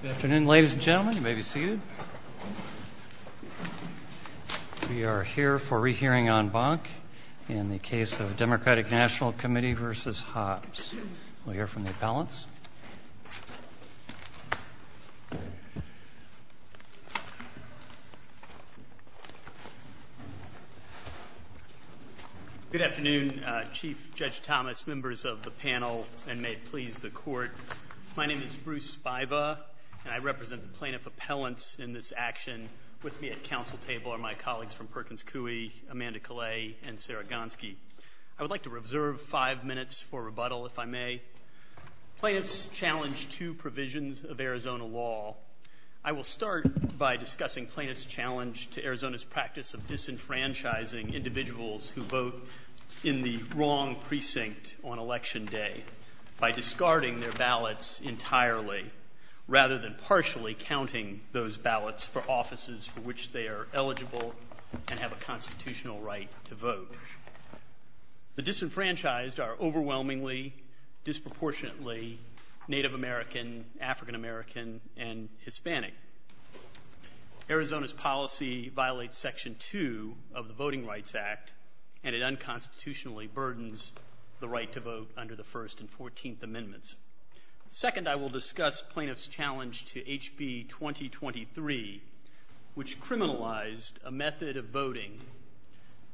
Good afternoon, ladies and gentlemen. You may be seated. We are here for a re-hearing on Bonk in the case of Democratic National Committee v. Hobbs. We'll hear from the panelists. Good afternoon, Chief Judge Thomas, members of the panel, and may it please the Court. My name is Bruce Spiva, and I represent the plaintiff appellants in this action with me at council table are my colleagues from Perkins Coie, Amanda Kalei, and Sarah Gonsky. I would like to reserve five minutes for rebuttal, if I may. Plaintiffs challenge two provisions of Arizona law. I will start by discussing plaintiffs' challenge to Arizona's practice of disenfranchising individuals who vote in the wrong precinct on election day by discarding their ballots entirely rather than partially counting those ballots for offices for which they are eligible and have a constitutional right to vote. The disenfranchised are overwhelmingly, disproportionately Native American, African American, and Hispanic. Arizona's policy violates Section 2 of the Voting Rights Act, and it unconstitutionally burdens the right to vote under the First and Fourteenth Amendments. Second, I will discuss plaintiffs' challenge to HB 2023, which criminalized a method of voting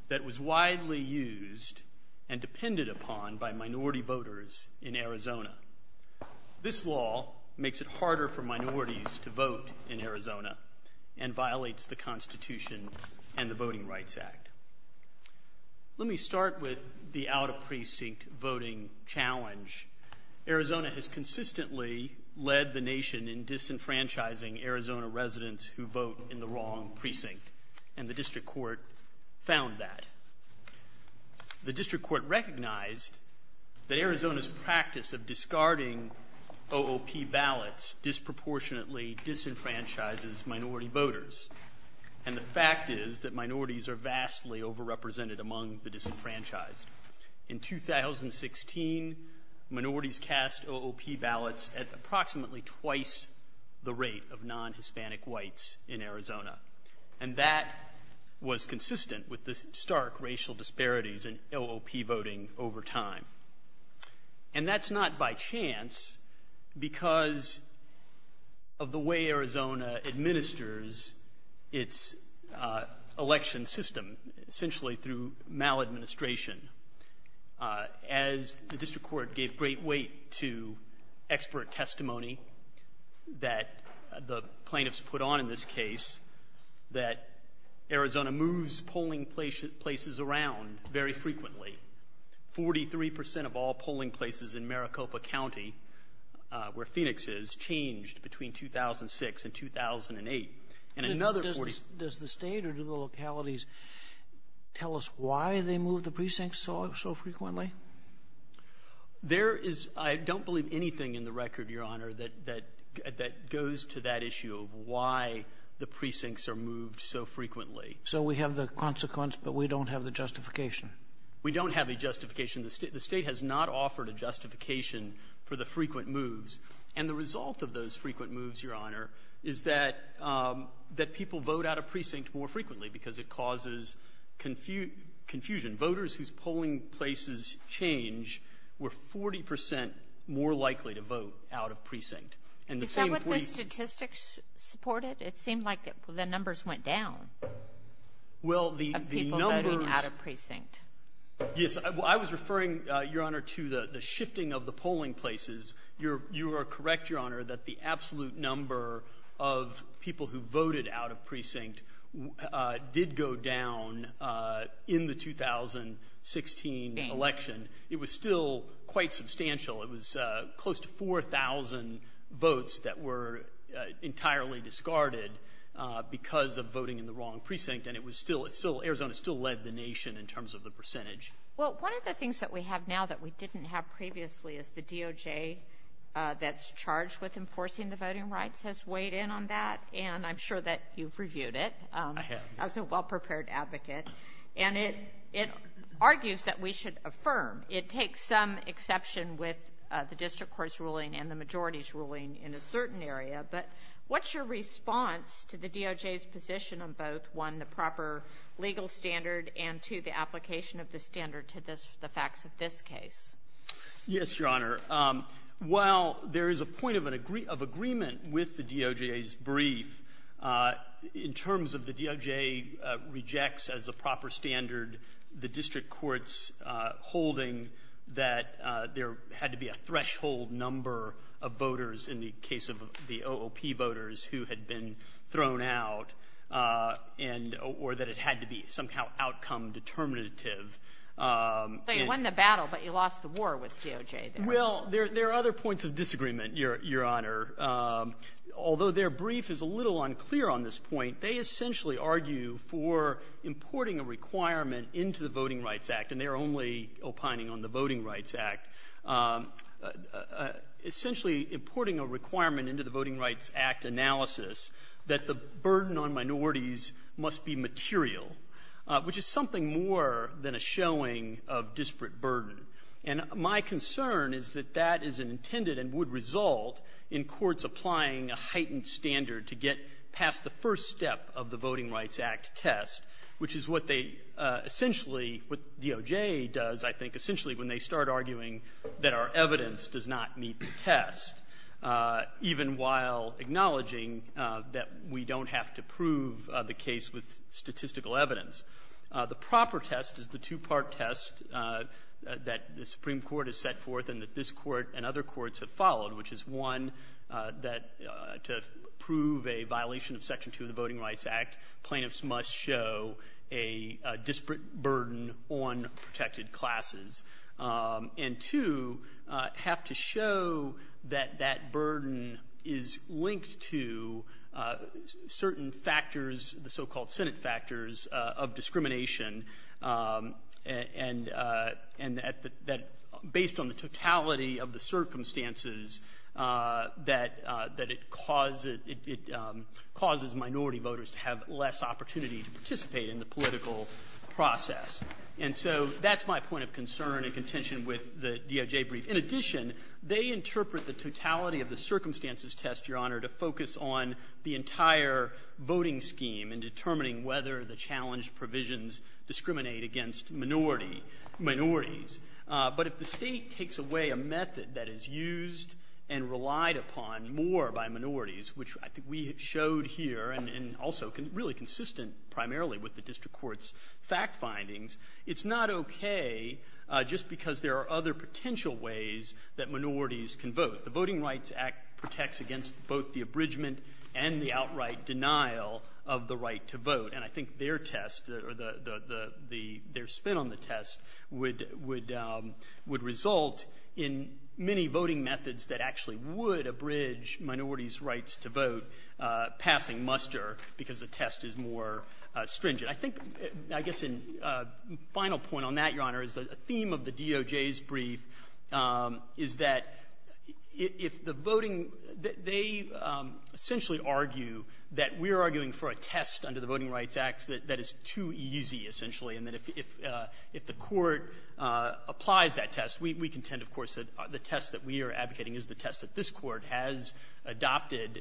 that was widely used and depended upon by minority voters in Arizona. This law makes it harder for minorities to vote in Arizona and violates the Constitution and the Voting Rights Act. Let me start with the out-of-precinct voting challenge. Arizona has consistently led the nation in disenfranchising Arizona residents who vote in the wrong precinct, and the District Court found that. The District Court recognized that Arizona's practice of discarding OOP ballots disproportionately disenfranchises minority voters, and the fact is that minorities are vastly overrepresented among the disenfranchised. In 2016, minorities cast OOP ballots at approximately twice the rate of non-Hispanic whites in Arizona, and that was consistent with the stark racial disparities in OOP voting over time. And that's not by chance because of the way Arizona administers its election system, essentially through maladministration. As the District Court gave great weight to expert testimony that the plaintiffs put on in this case, that Arizona moves polling places around very frequently. Forty-three percent of all polling places in Maricopa County, where Phoenix is, changed between 2006 and 2008. And another... Does the state or do the localities tell us why they move the precincts so frequently? There is, I don't believe anything in the record, Your Honor, that goes to that issue of why the precincts are moved so frequently. So we have the consequence, but we don't have the justification. We don't have a justification. The state has not offered a justification for the frequent moves. And the result of those frequent moves, Your Honor, is that people vote out of precincts more frequently because it causes confusion. Voters whose polling places change were 40% more likely to vote out of precincts. Is that what the statistics supported? It seemed like the numbers went down of people voting out of precincts. Well, I was referring, Your Honor, to the shifting of the polling places. You are correct, Your Honor, that the absolute number of people who voted out of precincts did go down in the 2016 election. It was still quite substantial. It was close to 4,000 votes that were entirely discarded because of voting in the wrong precinct. And it was still... Arizona still led the nation in terms of the number of people who voted out of precincts. And the statistics that we have now that we didn't have previously is the DOJ that's charged with enforcing the voting rights has weighed in on that, and I'm sure that you've reviewed it. I was a well-prepared advocate. And it argues that we should affirm. It takes some exception with the district court's ruling and the majority's ruling in a certain area. But what's your response to the DOJ's position on both, one, the proper legal standard, and two, the application of the standard to the facts of this case? Yes, Your Honor. While there is a point of agreement with the DOJ's brief, in terms of the DOJ rejects as a proper standard the district court's holding that there had to be a threshold number of voters in the case of the OOP voters who had been thrown out, or that it had to be somehow outcome determinative. So you won the battle, but you lost the war with DOJ there. Well, there are other points of disagreement, Your Honor. Although their brief is a little unclear on this point, they essentially argue for importing a requirement into the Voting Rights Act, and they're only opining on the Voting Rights Act analysis that the burden on minorities must be material, which is something more than a showing of disparate burden. And my concern is that that is intended and would result in courts applying a heightened standard to get past the first step of the Voting Rights Act test, which is what they essentially, what DOJ does, I think, essentially when they start arguing that our even while acknowledging that we don't have to prove the case with statistical evidence, the proper test is the two-part test that the Supreme Court has set forth and that this court and other courts have followed, which is one, that to prove a violation of Section 2 of the Voting Rights Act, plaintiffs must show a disparate burden on protected classes, and two, have to show that that burden is linked to certain factors, the so-called Senate factors of discrimination, and that based on the totality of the circumstances that it causes minority voters to have less opportunity to participate in the political process. And so that's my point of concern in contention with the DOJ brief. In addition, they interpret the totality of the circumstances test, Your Honor, to focus on the entire voting scheme in determining whether the challenged provisions discriminate against minorities. But if the state takes away a method that is used and relied upon more by minorities, which I think we showed here and also really consistent primarily with the district court's fact findings, it's not okay just because there are other potential ways that minorities can vote. The Voting Rights Act protects against both the abridgment and the outright denial of the right to vote, and I think their test or their spin on the test would result in many voting methods that actually would abridge minorities' rights to vote passing muster because the test is more stringent. I think, I guess a final point on that, Your Honor, is the theme of the DOJ's brief is that if the voting, they essentially argue that we're arguing for a test under the Voting Rights Act that is too easy, essentially, and that if the court applies that test, we contend, of course, that the test that we are advocating is the test that this court has adopted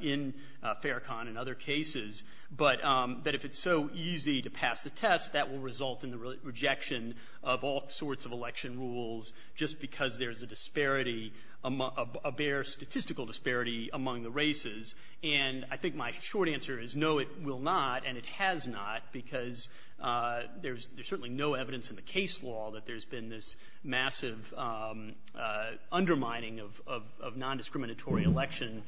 in Farrakhan and other cases. But if it's so easy to pass the test, that will result in the rejection of all sorts of election rules just because there's a disparity, a bare statistical disparity among the races. And I think my short answer is, no, it will not, and it has not, because there's certainly no evidence in the case law that there's been this massive undermining of nondiscriminatory election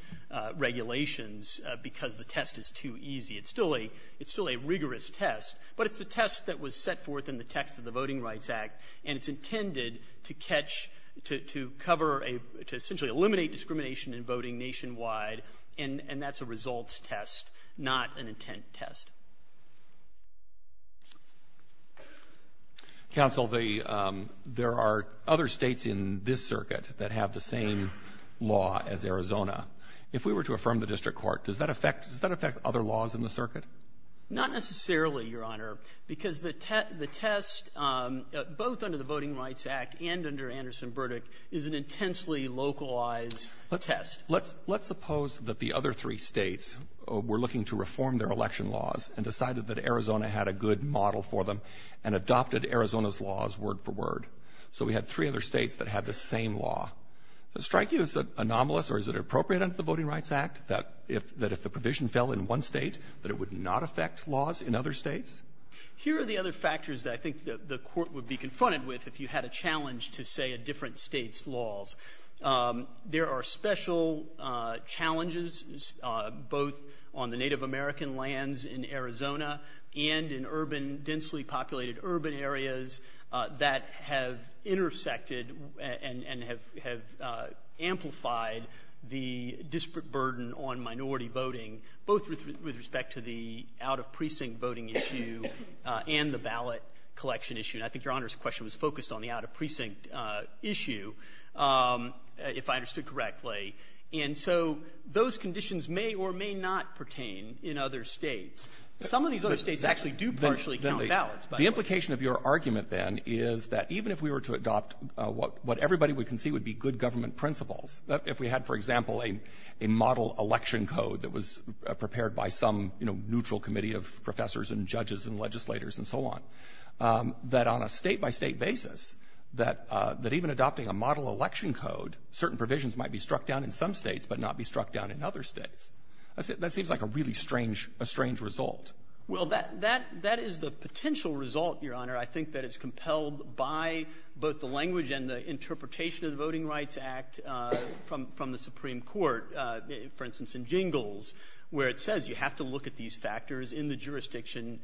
regulations because the test is too easy. It's still a rigorous test, but it's a test that was set forth in the text of the Voting Rights Act, and it's intended to catch, to cover, to essentially eliminate discrimination in voting nationwide, and that's a results test, not an intent test. Counsel, there are other states in this circuit that have the same law as Arizona. If we were to affirm the district court, does that affect other laws in the circuit? Not necessarily, Your Honor, because the test, both under the Voting Rights Act and under Anderson verdict, is an intensely localized test. Let's suppose that the other three states were looking to reform their election laws and decided that Arizona had a good model for them and adopted Arizona's laws word for word. So we had three other states that had the same law. Does that strike you as anomalous, or is it appropriate under the Voting Rights Act that if the provision fell in one state that it would not affect laws in other states? Here are the other factors that I think the court would be confronted with if you had a challenge to, say, a different state's laws. There are special challenges, both on the Native American lands in Arizona and in urban, densely populated urban areas, that have intersected and have amplified the disparate burden on minority voting, both with respect to the out-of-precinct voting issue and the ballot collection issue, and I think Your Honor's question was focused on the out-of-precinct issue, if I understood correctly. And so those conditions may or may not pertain in other states. Some of those states actually do partially count ballots, by the way. The implication of your argument, then, is that even if we were to adopt what everybody would concede would be good government principles, if we had, for example, a model election code that was prepared by some neutral committee of a state-by-state basis, that even adopting a model election code, certain provisions might be struck down in some states but not be struck down in other states, that seems like a really strange result. Well, that is the potential result, Your Honor, I think that is compelled by both the language and the interpretation of the Voting Rights Act from the Supreme Court, for instance, in Jingles, where it says you have to look at these factors in the jurisdiction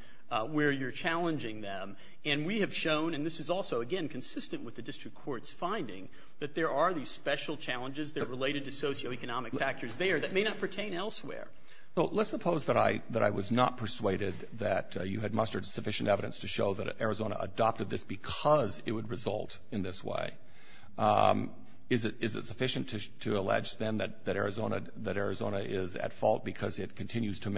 where you're challenging them. And we have shown, and this is also, again, consistent with the district court's finding, that there are these special challenges that are related to socioeconomic factors there that may not pertain elsewhere. So let's suppose that I was not persuaded that you had mustered sufficient evidence to show that Arizona adopted this because it would result in this way. Is it sufficient to allege, then, that Arizona is at fault because it continues to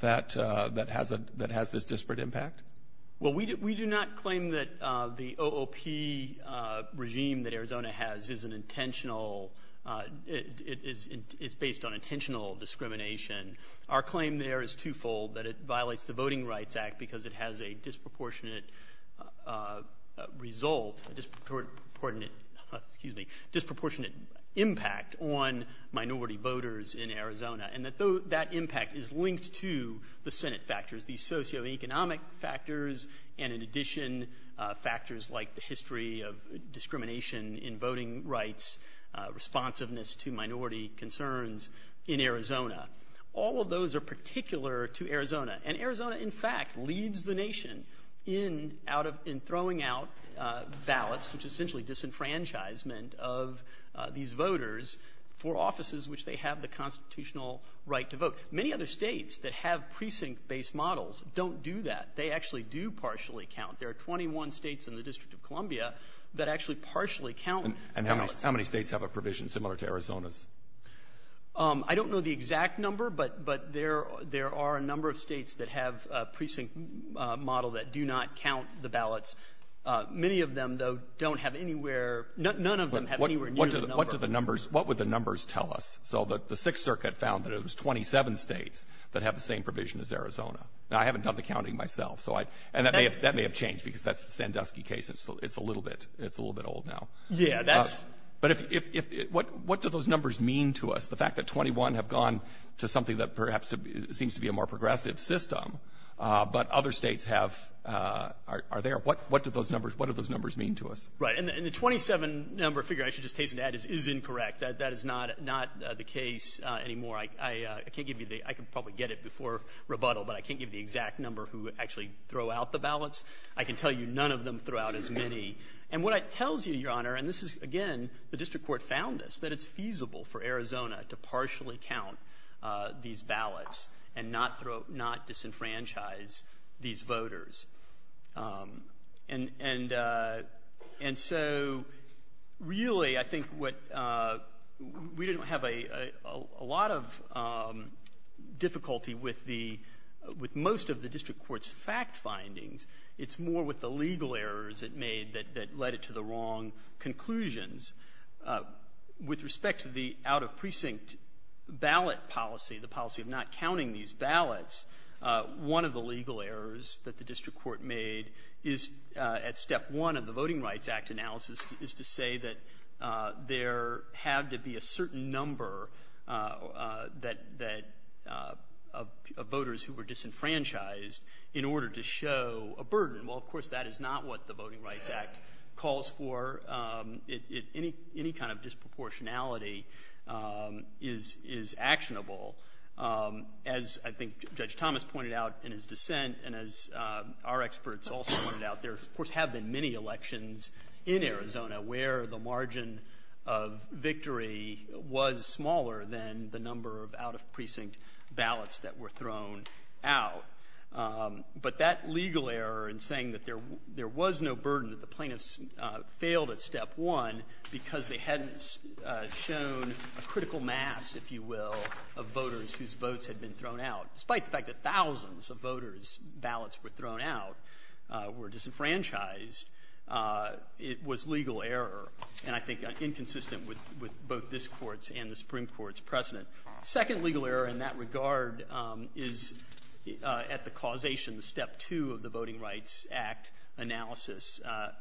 that has this disparate impact? Well, we do not claim that the OOP regime that Arizona has is based on intentional discrimination. Our claim there is twofold, that it violates the Voting Rights Act because it has a disproportionate impact on minority voters in Arizona, and that that impact is linked to the Senate factors, the socioeconomic factors, and in addition, factors like the history of discrimination in voting rights, responsiveness to minority concerns in Arizona. All of those are particular to Arizona. And Arizona, in fact, leads the nation in throwing out ballots, which is essentially disenfranchisement of these voters for offices which they have the constitutional right to vote. Many other states that have precinct-based models don't do that. They actually do partially count. There are 21 states in the District of Columbia that actually partially count. And how many states have a provision similar to Arizona's? I don't know the exact number, but there are a number of states that have a precinct model that do not count the ballots. Many of them, though, don't have anywhere – none of them have any renewed numbers. What do the numbers – what would the numbers tell us? So the Sixth Circuit found that it was 27 states that have the same provision as Arizona. Now, I haven't done the counting myself, so I – and that may have changed because that's the Sandusky case. It's a little bit – it's a little bit old now. Yeah, that's – But if – what do those numbers mean to us? The fact that 21 have gone to something that perhaps seems to be a more progressive system, but other states have – are there – what do those numbers – what do those numbers mean to us? Right. And the 27-number figure, I should just case you that, is incorrect. That is not the case anymore. I can't give you the – I can probably get it before rebuttal, but I can't give you the exact number who actually throw out the ballots. I can tell you none of them throw out as many. And what it tells you, Your Honor – and this is, again, the district court found this – that it's feasible for Arizona to partially count these ballots and not disenfranchise these voters. And so, really, I think what – we didn't have a lot of difficulty with the – with most of the district court's fact findings. It's more with the legal errors it made that led it to the wrong conclusions. With respect to the out-of-precinct ballot policy, the policy of not counting these ballots, one of the legal errors that the district court made is, at step one of the Voting Rights Act analysis, is to say that there have to be a certain number that – of voters who were disenfranchised in order to show a burden. Well, of course, that is not what the Voting Rights Act calls for. It – any kind of disproportionality is actionable. As I think Judge Thomas pointed out in his dissent, and as our experts also pointed out, there, of course, have been many elections in Arizona where the margin of victory was smaller than the number of out-of-precinct ballots that were thrown out. But that legal error in saying that there was no burden that plaintiffs failed at step one because they hadn't shown a critical mass, if you will, of voters whose votes had been thrown out, despite the fact that thousands of voters' ballots were thrown out, were disenfranchised, it was legal error, and I think inconsistent with both this court's and the Supreme Court's precedent. The second legal error in that regard is at the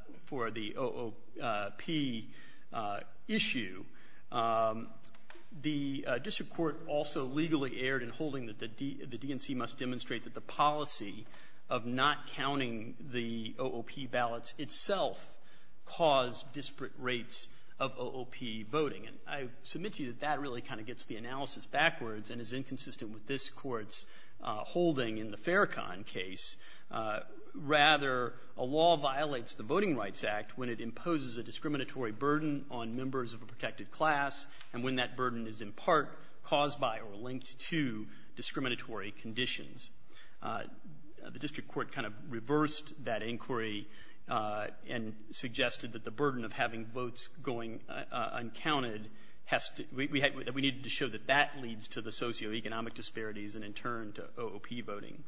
– for the OOP issue, the district court also legally erred in holding that the DNC must demonstrate that the policy of not counting the OOP ballots itself caused disparate rates of OOP voting. And I submit to you that that really kind of gets the analysis backwards and is inconsistent with this court's holding in the Farrakhan case. Rather, a law violates the Voting Rights Act when it imposes a discriminatory burden on members of a protected class, and when that burden is in part caused by or linked to discriminatory conditions. The district court kind of reversed that inquiry and suggested that the burden of having votes going uncounted has to – we needed to show that that leads to the socioeconomic disparities and in turn to OOP voting.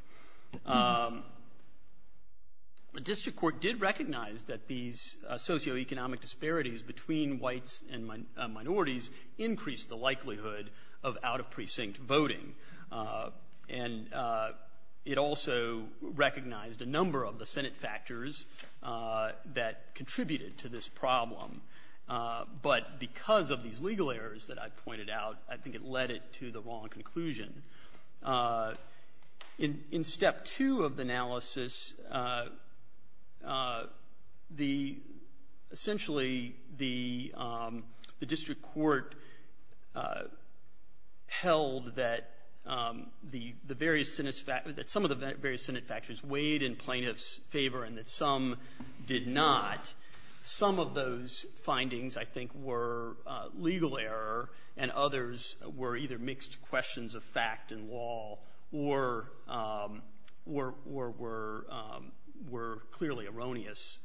The district court did recognize that these socioeconomic disparities between whites and minorities increased the likelihood of out-of-precinct voting, and it also recognized a number of the Senate factors that contributed to this problem. But because of these legal errors that I've pointed out, I think it led it to the wrong conclusion. In step two of the analysis, the – essentially, the district court held that the various Senate – that some of the various Senate factors weighed in plaintiff's favor and that some did not. Some of those findings, I think, were legal error, and others were either mixed questions of fact and law or were clearly erroneous.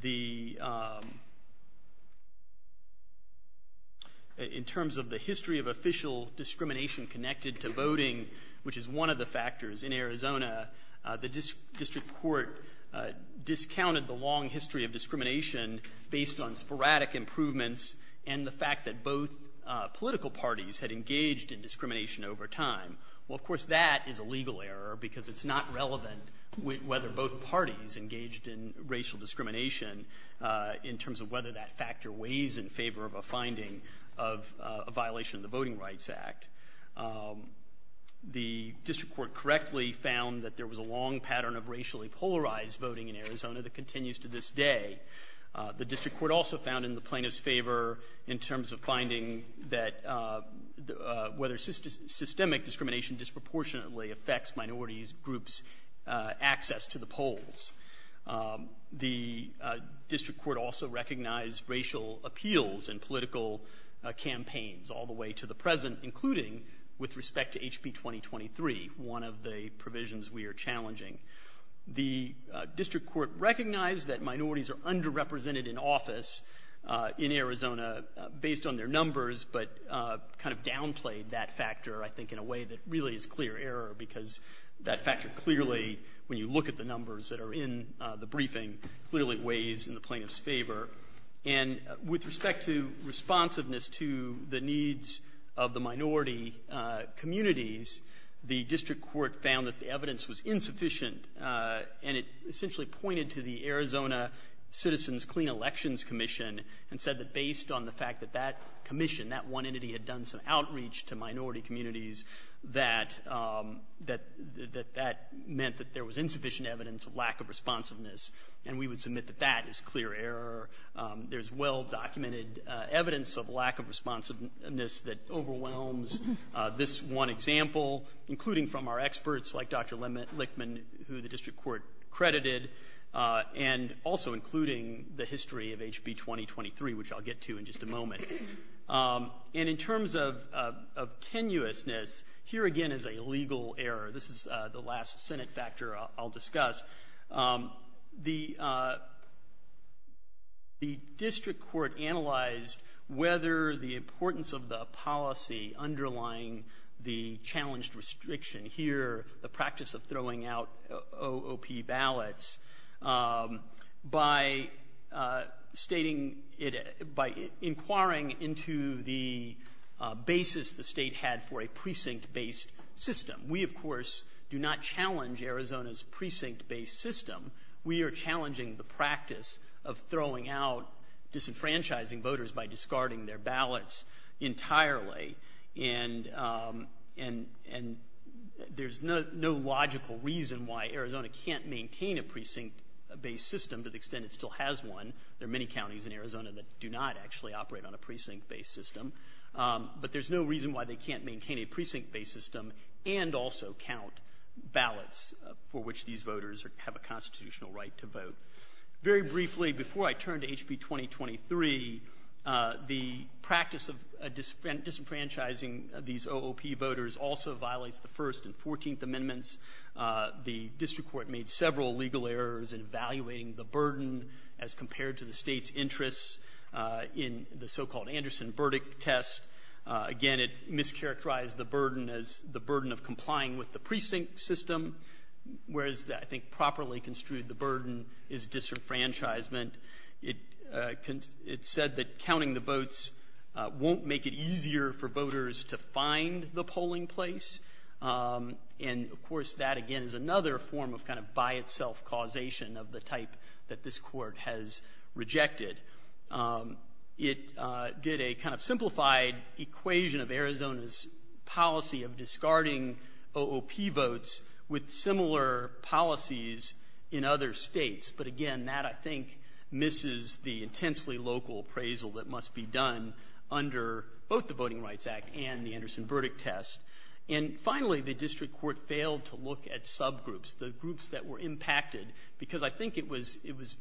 The – in terms of the history of official discrimination connected to voting, which is one of the factors in Arizona, the district court discounted the long history of discrimination based on sporadic improvements and the fact that both political parties had engaged in discrimination over time. Well, of course, that is a legal error because it's not relevant whether both parties engaged in racial discrimination in terms of whether that factor weighs in favor of a finding of a violation of the Voting Rights Act. The district court correctly found that there was a long pattern of racially polarized voting in Arizona that continues to this day. The district court also found in the plaintiff's favor in terms of finding that whether systemic discrimination disproportionately affects minority groups' access to the polls. The district court also recognized racial appeals in political campaigns all the way to the present, including with respect to HB 2023, one of the provisions we are challenging. The district court recognized that minorities are underrepresented in office in Arizona based on their numbers but kind of downplayed that factor, I think, in a way that really is clear error because that factor clearly, when you look at the numbers that are in the briefing, clearly weighs in the plaintiff's favor. And with respect to responsiveness to the needs of the minority communities, the district court found that the evidence was insufficient and it essentially pointed to the Arizona Citizens Clean Elections Commission and said that based on the fact that that commission, that one entity had done some outreach to minority communities, that that meant that there was insufficient evidence of lack of responsiveness and we would submit that that is clear error. There's well-documented evidence of lack of responsiveness that overwhelms this one example, including from our experts like Dr. Lichtman, who the district court credited, and also including the history of HB 2023, which I'll get to in just a moment. And in terms of tenuousness, here again is a legal error. This is the last Senate factor I'll discuss. The district court analyzed whether the importance of the policy underlying the challenged restriction here, the practice of throwing out OOP ballots, by stating it, by inquiring into the basis the state had for a precinct-based system. We, of course, do not challenge Arizona's precinct-based system. We are challenging the precinct-based system entirely, and there's no logical reason why Arizona can't maintain a precinct-based system to the extent it still has one. There are many counties in Arizona that do not actually operate on a precinct-based system, but there's no reason why they can't maintain a precinct-based system and also count ballots for which these voters have a constitutional right to vote. Very briefly, before I turn to HB 2023, the practice of disenfranchising these OOP voters also violates the First and Fourteenth Amendments. The district court made several legal errors in valuating the burden as compared to the state's interests in the so-called Anderson verdict test. Again, it mischaracterized the burden as the burden of complying with the precinct system, whereas I think properly construed the burden is disenfranchisement. It said that counting the votes won't make it easier for voters to find the polling place, and of course that again is another form of kind of by itself causation of the type that this court has rejected. It did a kind of simplified equation of Arizona's policy of discarding OOP votes with similar policies in other states, but again that I think misses the intensely local appraisal that must be done under both the Voting Rights Act and the Anderson verdict test. And finally, the district court failed to look at subgroups, the groups that were impacted, because I think it was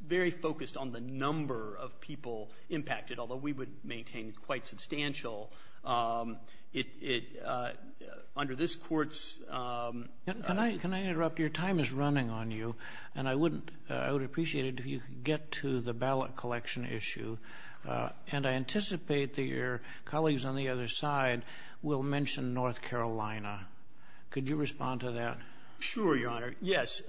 very focused on the number of people impacted, although we would maintain it quite substantial. Under this court's... Can I interrupt? Your time is running on you, and I would appreciate it if you could get to the ballot collection issue, and I anticipate that your colleagues on the other side will mention North Carolina. Could you respond to that? Sure, Your Honor. Yes,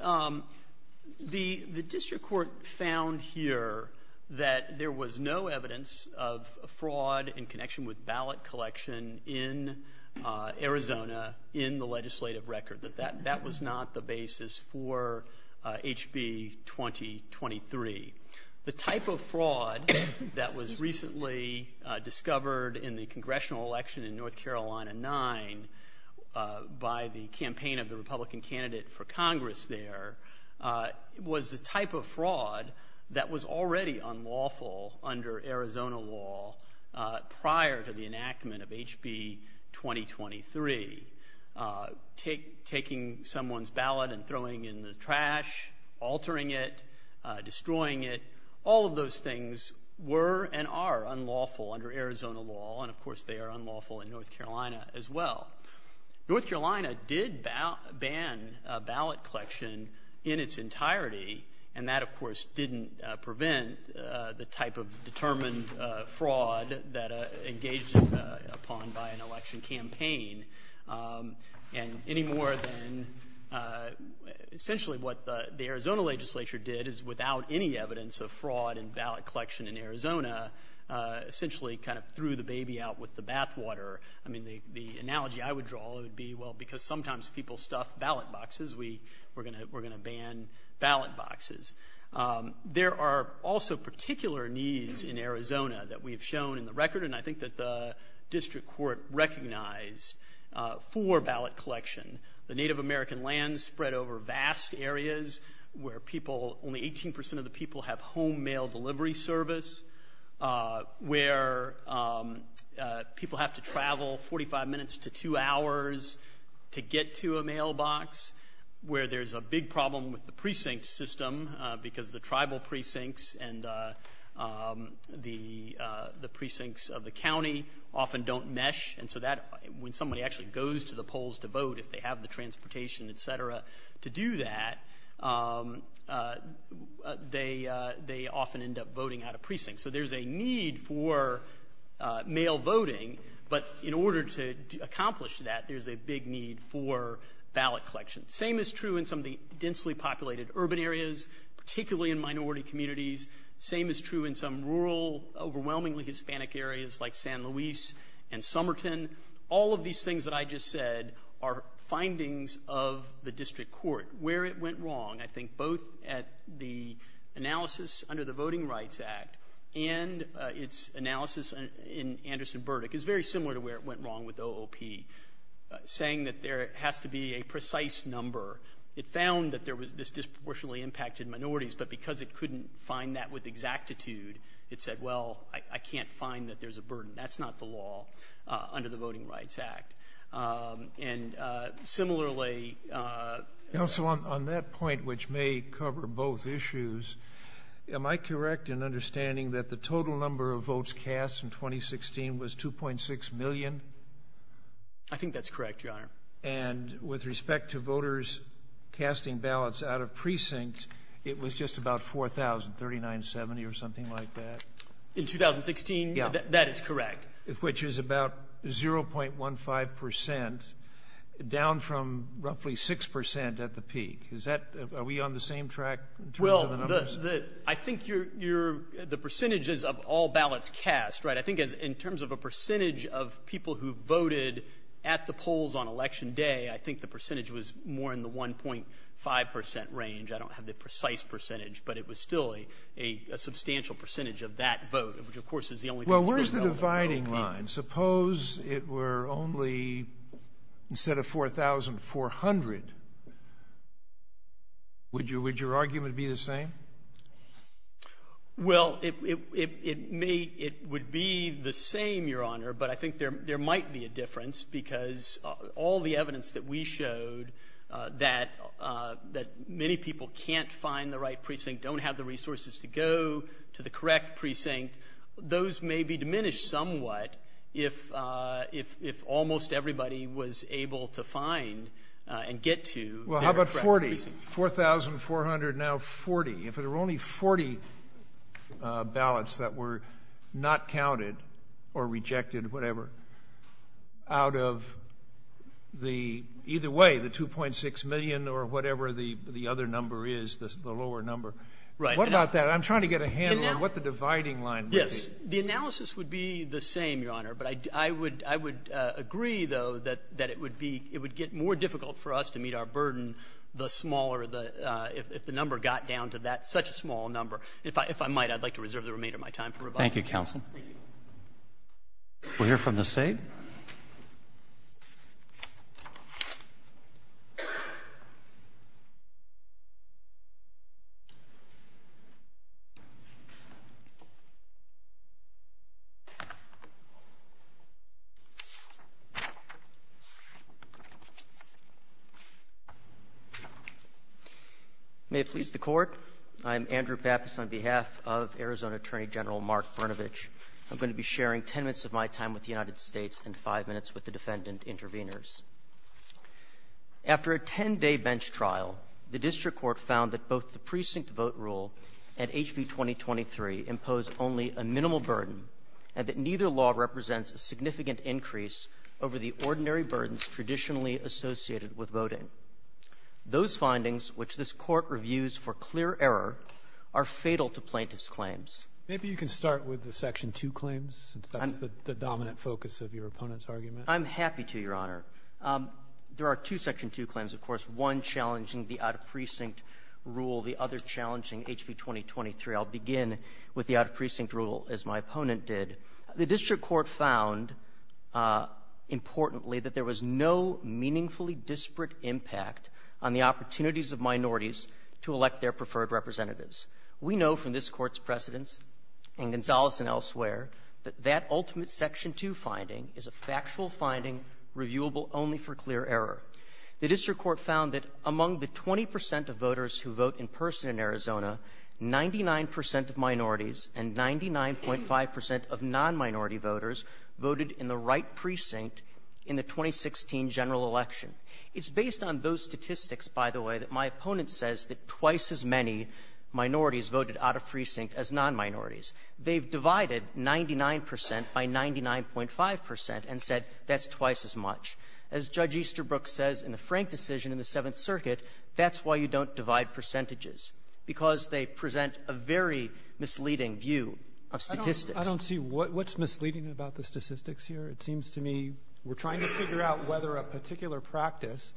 the district court found here that there was no evidence of fraud in connection with ballot collection in Arizona in the legislative record, that that was not the basis for HB 2023. The type of fraud that was recently discovered in the congressional election in North Carolina 9 by the campaign of the that was already unlawful under Arizona law prior to the enactment of HB 2023. Taking someone's ballot and throwing it in the trash, altering it, destroying it, all of those things were and are unlawful under Arizona law, and of course they are unlawful in North Carolina as well. North Carolina did ban ballot collection in its entirety, and that of course didn't prevent the type of determined fraud that engaged upon by an election campaign, and any more than essentially what the Arizona legislature did is, without any evidence of fraud in ballot collection in Arizona, essentially kind of threw the baby out with the bathwater. I mean, the analogy I would draw would be, well, because sometimes people stuff ballot boxes, we're going to ban ballot boxes. There are also particular needs in Arizona that we've shown in the record, and I think that the district court recognized for ballot collection. The Native American lands spread over vast areas where people, only 18 percent of the people, have home mail delivery service, where people have to travel 45 minutes to two hours to get to a mailbox, where there's a big problem with the precinct system because the tribal precincts and the precincts of the county often don't mesh, and so when somebody actually goes to the polls to vote, if they have the transportation, et cetera, to do that, they often end up voting out of precincts. So there's a need for mail voting, but in order to accomplish that, there's a big need for ballot collection. Same is true in some of the densely populated urban areas, particularly in minority communities. Same is true in some rural, overwhelmingly Hispanic areas like San Luis and Somerton. All of these things that I just said are findings of the district court. Where it went wrong, I think both at the analysis under the Voting Rights Act and its analysis in Anderson Burdick, is very similar to where it went wrong with OOP, saying that there has to be a precise number. It found that there was this disproportionately impacted minorities, but because it couldn't find that with exactitude, it said, well, I can't find that there's a burden. That's not the law under the Voting Rights Act. And similarly... You know, so on that point, which may cover both issues, am I correct in understanding that the total number of votes cast in 2016 was 2.6 million? I think that's correct, Your Honor. And with respect to voters casting ballots out of precincts, it was just about 4,000, 3970 or something like that. In 2016? Yeah. That is correct. Which is about 0.15 percent, down from roughly 6 percent at the peak. Are we on the same track? Well, I think the percentages of all ballots cast, right, I think in terms of a percentage of people who voted at the polls on Election Day, I think the percentage was more in the 1.5 percent range. I don't have the precise percentage, but it was still a substantial percentage of that vote, which of course is the only... Well, where's the dividing line? Suppose it were only, instead of 4,400, would your argument be the same? Well, it would be the same, Your Honor, but I think there might be a difference because all the evidence that we showed that many people can't find the right precinct, don't have the resources to go to the correct precinct, those may be diminished somewhat if almost everybody was able to find and get to their correct precinct. Well, how about 40? 4,400, now 40. If there were only 40 ballots that were not counted or rejected, whatever, out of the, either way, the 2.6 million or whatever the other number is, the lower number. What about that? I'm trying to get a handle on what the dividing line is. Yes, the analysis would be the same, Your Honor, but I would agree, though, that it would get more difficult for us to meet our burden the smaller, if the number got down to that, such a small number. If I might, I'd like to reserve the remainder of my time for rebuttal. Thank you, counsel. We'll hear from the State. May it please the Court, I'm Andrew Pappas on behalf of Arizona Attorney General Mark Brnovich. I'm going to be sharing 10 minutes of my time with the United States and five minutes with the defendant intervenors. After a 10-day bench trial, the district court found that both the precinct vote rule and HB 2023 impose only a minimal burden and that neither law represents a significant increase over the ordinary burdens traditionally associated with voting. Those findings, which this Court reviews for clear error, are fatal to plaintiff's claims. Maybe you can start with the Section 2 claims, the dominant focus of your opponent's argument. I'm happy to, Your Honor. There are two Section 2 claims, of course, one challenging the out-of- precinct rule, the other challenging HB 2023. I'll begin with the out-of-precinct rule, as my opponent did. The district court found, importantly, that there was no meaningfully disparate impact on the opportunities of minorities to elect their preferred representatives. We know from this Court's precedents and Gonzales and elsewhere that that ultimate Section 2 finding is a factual finding reviewable only for clear error. The district court found that among the 20 percent of voters who vote in person in Arizona, 99 percent of minorities and 99.5 percent of non-minority voters voted in the right precinct in the 2016 general election. It's based on those statistics, by the way, that my opponent says that twice as many minorities voted out-of-precinct as non-minorities. They've divided 99 percent by 99.5 percent and said that's twice as much. As Judge Easterbrook says in the Frank decision in the Seventh Circuit, that's why you don't divide percentages, because they present a very misleading view of statistics. I don't see what's misleading about the statistics here. It seems to me we're trying to figure out whether a particular practice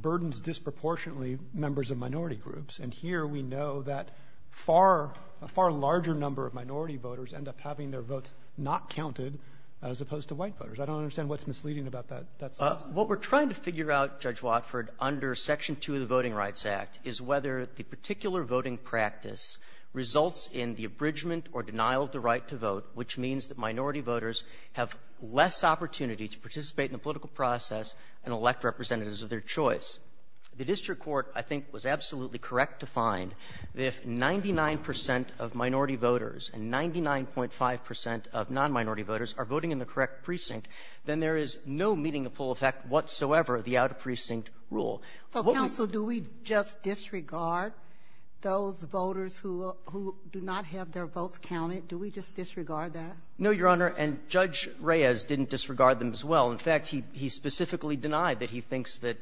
burdens disproportionately members of minority groups, and here we know that a far larger number of minority voters end up having their votes not counted as opposed to white voters. I don't understand what's misleading about that. What we're trying to figure out, Judge Watford, under Section 2 of the Voting Rights Act is whether the particular voting practice results in the abridgment or denial of the right to vote, which means that minority voters have less opportunity to participate in the political process and elect representatives of their choice. The district court, I think, was absolutely correct to find that if 99 percent of minority voters and 99.5 percent of non-minority voters are voting in the correct precinct, then there is no meaning of full effect whatsoever of the out-of-precinct rule. So, counsel, do we just disregard those voters who do not have their votes counted? Do we just disregard that? No, Your Honor, and Judge Reyes didn't disregard them as well. In fact, he specifically denied that he thinks that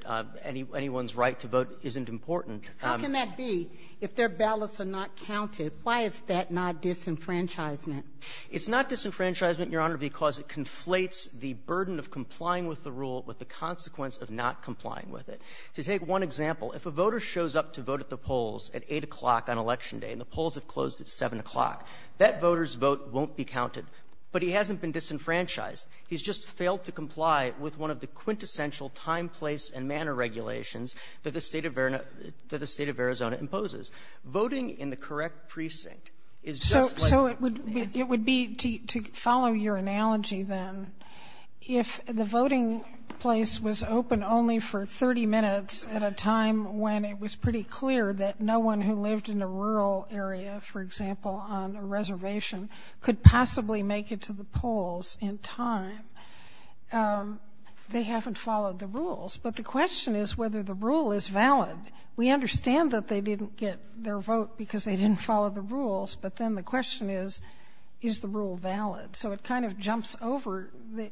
anyone's right to vote isn't important. How can that be if their ballots are not counted? Why is that not disenfranchisement? It's not disenfranchisement, Your Honor, because it conflates the burden of complying with the rule with the consequence of not complying with it. To take one example, if a voter shows up to vote at the polls at 8 o'clock on election day and the polls have closed at 7 o'clock, that voter's vote won't be counted. But he hasn't been disenfranchised. He's just failed to comply with one of the quintessential time, place, and manner regulations that the state of Arizona imposes. Voting in the correct analogy, then, if the voting place was open only for 30 minutes at a time when it was pretty clear that no one who lived in a rural area, for example, on a reservation could possibly make it to the polls in time, they haven't followed the rules. But the question is whether the rule is valid. We understand that they didn't get their vote because they didn't follow the rules, but then the question is, is the rule valid? So it kind of jumps over the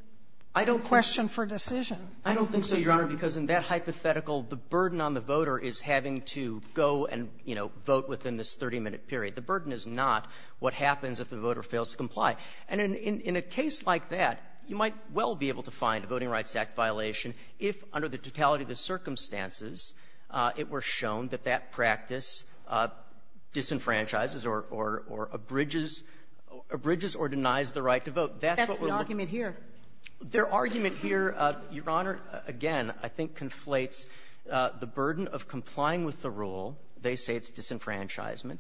question for decision. I don't think so, Your Honor, because in that hypothetical, the burden on the voter is having to go and, you know, vote within this 30-minute period. The burden is not what happens if the voter fails to comply. And in a case like that, you might well be able to find a Voting Rights Act violation if, under the totality of the circumstances, it were shown that that practice disenfranchises or abridges or denies the right to vote. That's the argument here. Their argument here, Your Honor, again, I think conflates the burden of complying with the rule, they say it's disenfranchisement,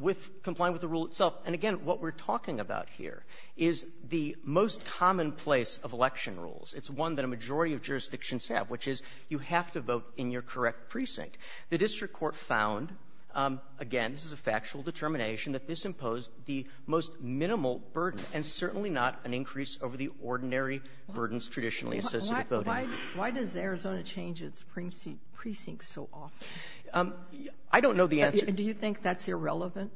with complying with the rule itself. And again, what we're talking about here is the most commonplace of election rules. It's one that a majority of jurisdictions have, which is you have to vote in your correct precinct. The district court found, again, this is a factual determination, that this imposed the most minimal burden, and certainly not an increase over the ordinary burdens traditionally associated with voting. Why does Arizona change its precincts so often? I don't know the answer. Do you think that's irrelevant?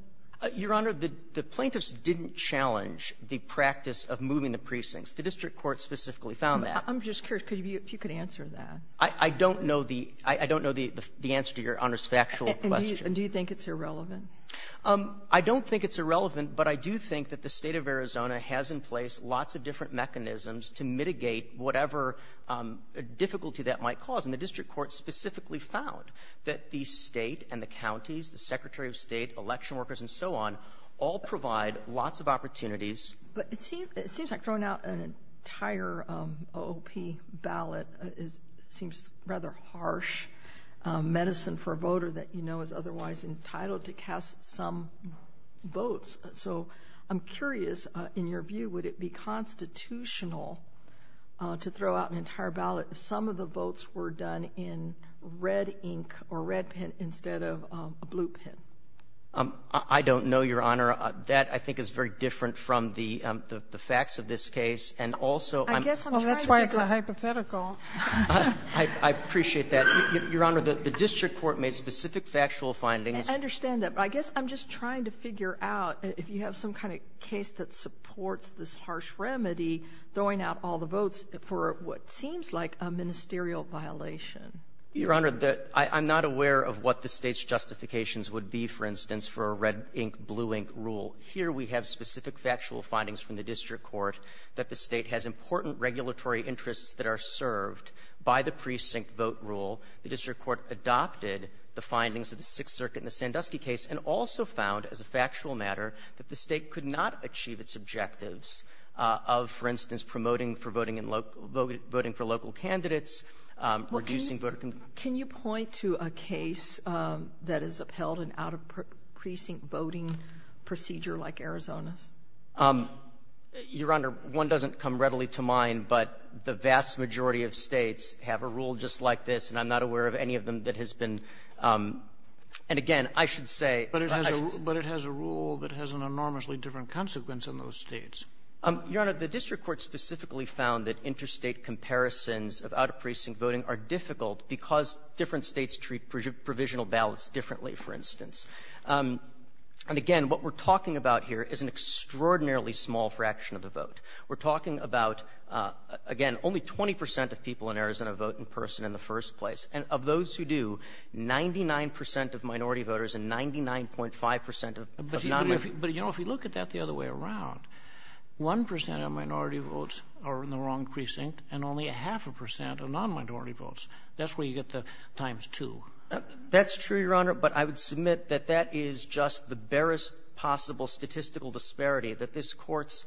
Your Honor, the plaintiffs didn't challenge the practice of moving the precincts. The district court specifically found that. I'm just curious if you could answer that. I don't know the answer to Your Honor's factual question. And do you think it's irrelevant? I don't think it's irrelevant, but I do think that the state of Arizona has in place lots of different mechanisms to mitigate whatever difficulty that might cause. And the district court specifically found that the state and the counties, the Secretary of State, election But it seems like throwing out an entire OOP ballot seems rather harsh medicine for a voter that you know is otherwise entitled to cast some votes. So I'm curious, in your view, would it be constitutional to throw out an entire ballot if some of the votes were done in red ink or red pen instead of a blue pen? I don't know, Your Honor. That, I think, is very different from the facts of this case. And also, I guess that's why it's a hypothetical. I appreciate that. Your Honor, the district court made specific factual findings. I understand that. But I guess I'm just trying to figure out if you have some kind of case that supports this harsh remedy, throwing out all the votes for what seems like a ministerial violation. Your Honor, I'm not aware of what the state's justifications would be, for instance, for a red ink, blue ink rule. Here we have specific factual findings from the district court that the state has important regulatory interests that are served by the precinct vote rule. The district court adopted the findings of the Sixth Circuit in the Sandusky case and also found, as a factual matter, that the state could not achieve its objectives of, for instance, for voting for local candidates or reducing voter — Can you point to a case that has upheld an out-of-precinct voting procedure like Arizona's? Your Honor, one doesn't come readily to mind, but the vast majority of states have a rule just like this, and I'm not aware of any of them that has been — and again, I should say — But it has a rule that has an enormously different consequence in those states. Your Honor, the district court specifically found that interstate comparisons of out-of-precinct voting are difficult because different states treat provisional ballots differently, for instance. And again, what we're talking about here is an extraordinarily small fraction of the vote. We're talking about, again, only 20 percent of people in Arizona vote in person in the first place, and of those who do, 99 percent of minority voters and 99.5 percent of non- — But, you know, if you look at that the other way around, one percent of minority votes are in the wrong precinct and only a half a percent are non-minority votes. That's where you get the times two. That's true, Your Honor, but I would submit that that is just the barest possible statistical disparity, that this Court's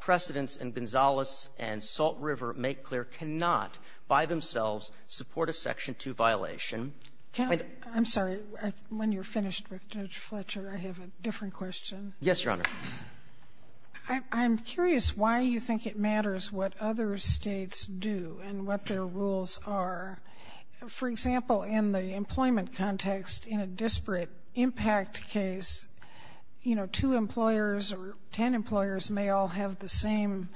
precedents in Gonzales and Salt River make clear cannot by themselves support a Section 2 violation. I'm sorry, when you're finished, Judge Fletcher, I have a different question. Yes, Your Honor. I'm curious why you think it matters what other states do and what their rules are. For example, in the employment context, in a disparate impact case, you know, two employers or 10 employers may all have the same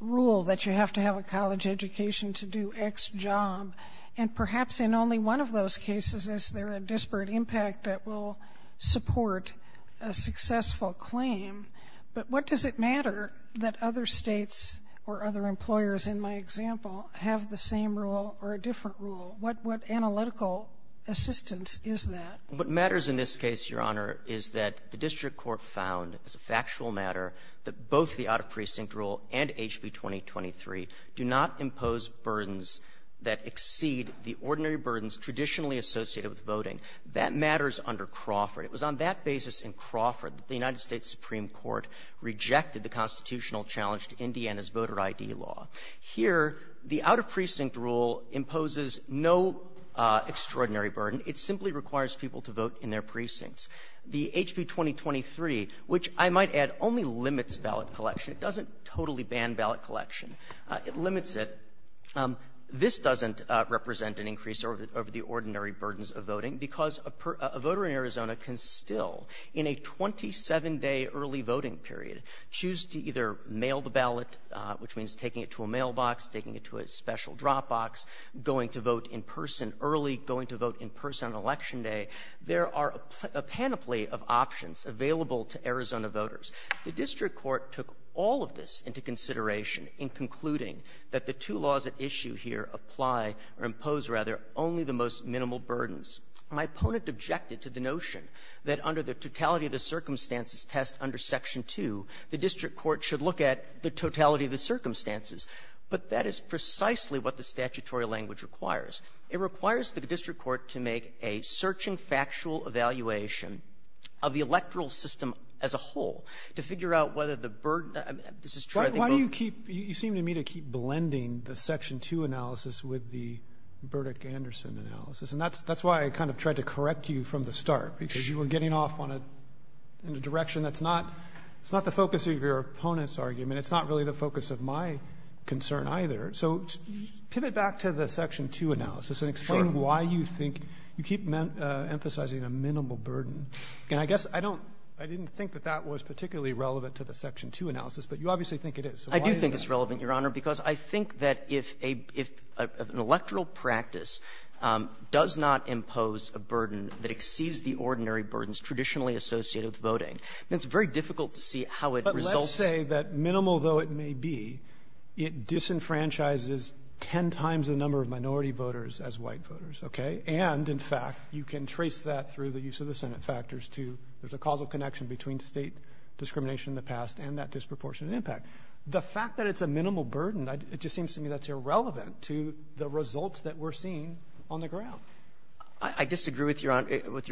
rule that you have to have a college education to do X job, and perhaps in only one of those cases is there a disparate impact that will support a successful claim, but what does it matter that other states or other employers, in my example, have the same rule or a different rule? What analytical assistance is that? What matters in this case, Your Honor, is that the District Court found, as a factual matter, that both the Out-of-Precinct Rule and HB 2023 do not impose burdens that exceed the ordinary burdens traditionally associated with voting. That matters under Crawford. It was on that basis in Crawford that the United States Supreme Court rejected the constitutional challenge to Indiana's voter ID law. Here, the Out-of-Precinct Rule imposes no extraordinary burden. It simply requires people to vote in their precincts. The HB 2023, which I might add, only limits ballot collection. It doesn't totally ban ballot collection. It limits it. This doesn't represent an increase over the ordinary burdens of voting because a voter in Arizona can still, in a 27-day early voting period, choose to either mail the ballot, which means taking it to a mailbox, taking it to a special dropbox, going to vote in person early, going to vote in person on Election Day. There are a panoply of options available to Arizona voters. The District Court took all of this into consideration in concluding that the two laws at issue here apply or impose, rather, only the most minimal burdens. My opponent objected to the notion that under the totality of the circumstances test under Section 2, the District Court should look at the totality of circumstances, but that is precisely what the statutory language requires. It requires the District Court to make a search-and-factual evaluation of the electoral system as a whole to figure out whether the burden... Why do you seem to me to keep blending the Section 2 analysis with the Burdick-Anderson analysis? That's why I kind of tried to correct you from the start, because you were getting off in a direction that's not the focus of your opponent's argument. It's really not the focus of my concern either. So pivot back to the Section 2 analysis and explain why you keep emphasizing a minimal burden. And I guess I didn't think that that was particularly relevant to the Section 2 analysis, but you obviously think it is. I do think it's relevant, Your Honor, because I think that if an electoral practice does not impose a burden that exceeds the ordinary burdens traditionally associated with voting, then it's very difficult to see how it may be it disenfranchises 10 times the number of minority voters as white voters, okay? And, in fact, you can trace that through the use of the Senate factors, too. There's a causal connection between state discrimination in the past and that disproportionate impact. The fact that it's a minimal burden, it just seems to me that's irrelevant to the results that we're seeing on the ground. I disagree with Your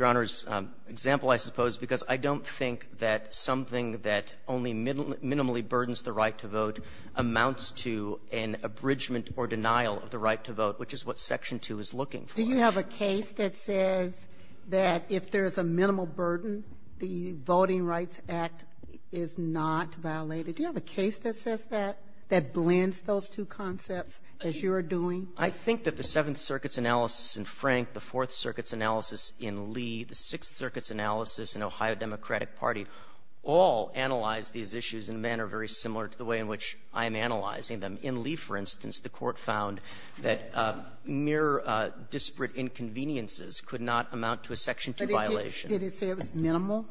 Honor's example, I suppose, because I don't think that something that only minimally burdens the right to vote amounts to an abridgment or denial of the right to vote, which is what Section 2 is looking for. Do you have a case that says that if there's a minimal burden, the Voting Rights Act is not violated? Do you have a case that says that, that blends those two concepts as you're doing? I think that the Seventh Circuit's analysis in Frank, the Fourth Circuit's analysis in Lee, the Sixth Circuit's analysis in Ohio Democratic Party, all analyzed these issues in a manner very similar to the way in which I'm analyzing them. In Lee, for instance, the court found that mere disparate inconveniences could not amount to a Section 2 violation. Did it say it was minimal?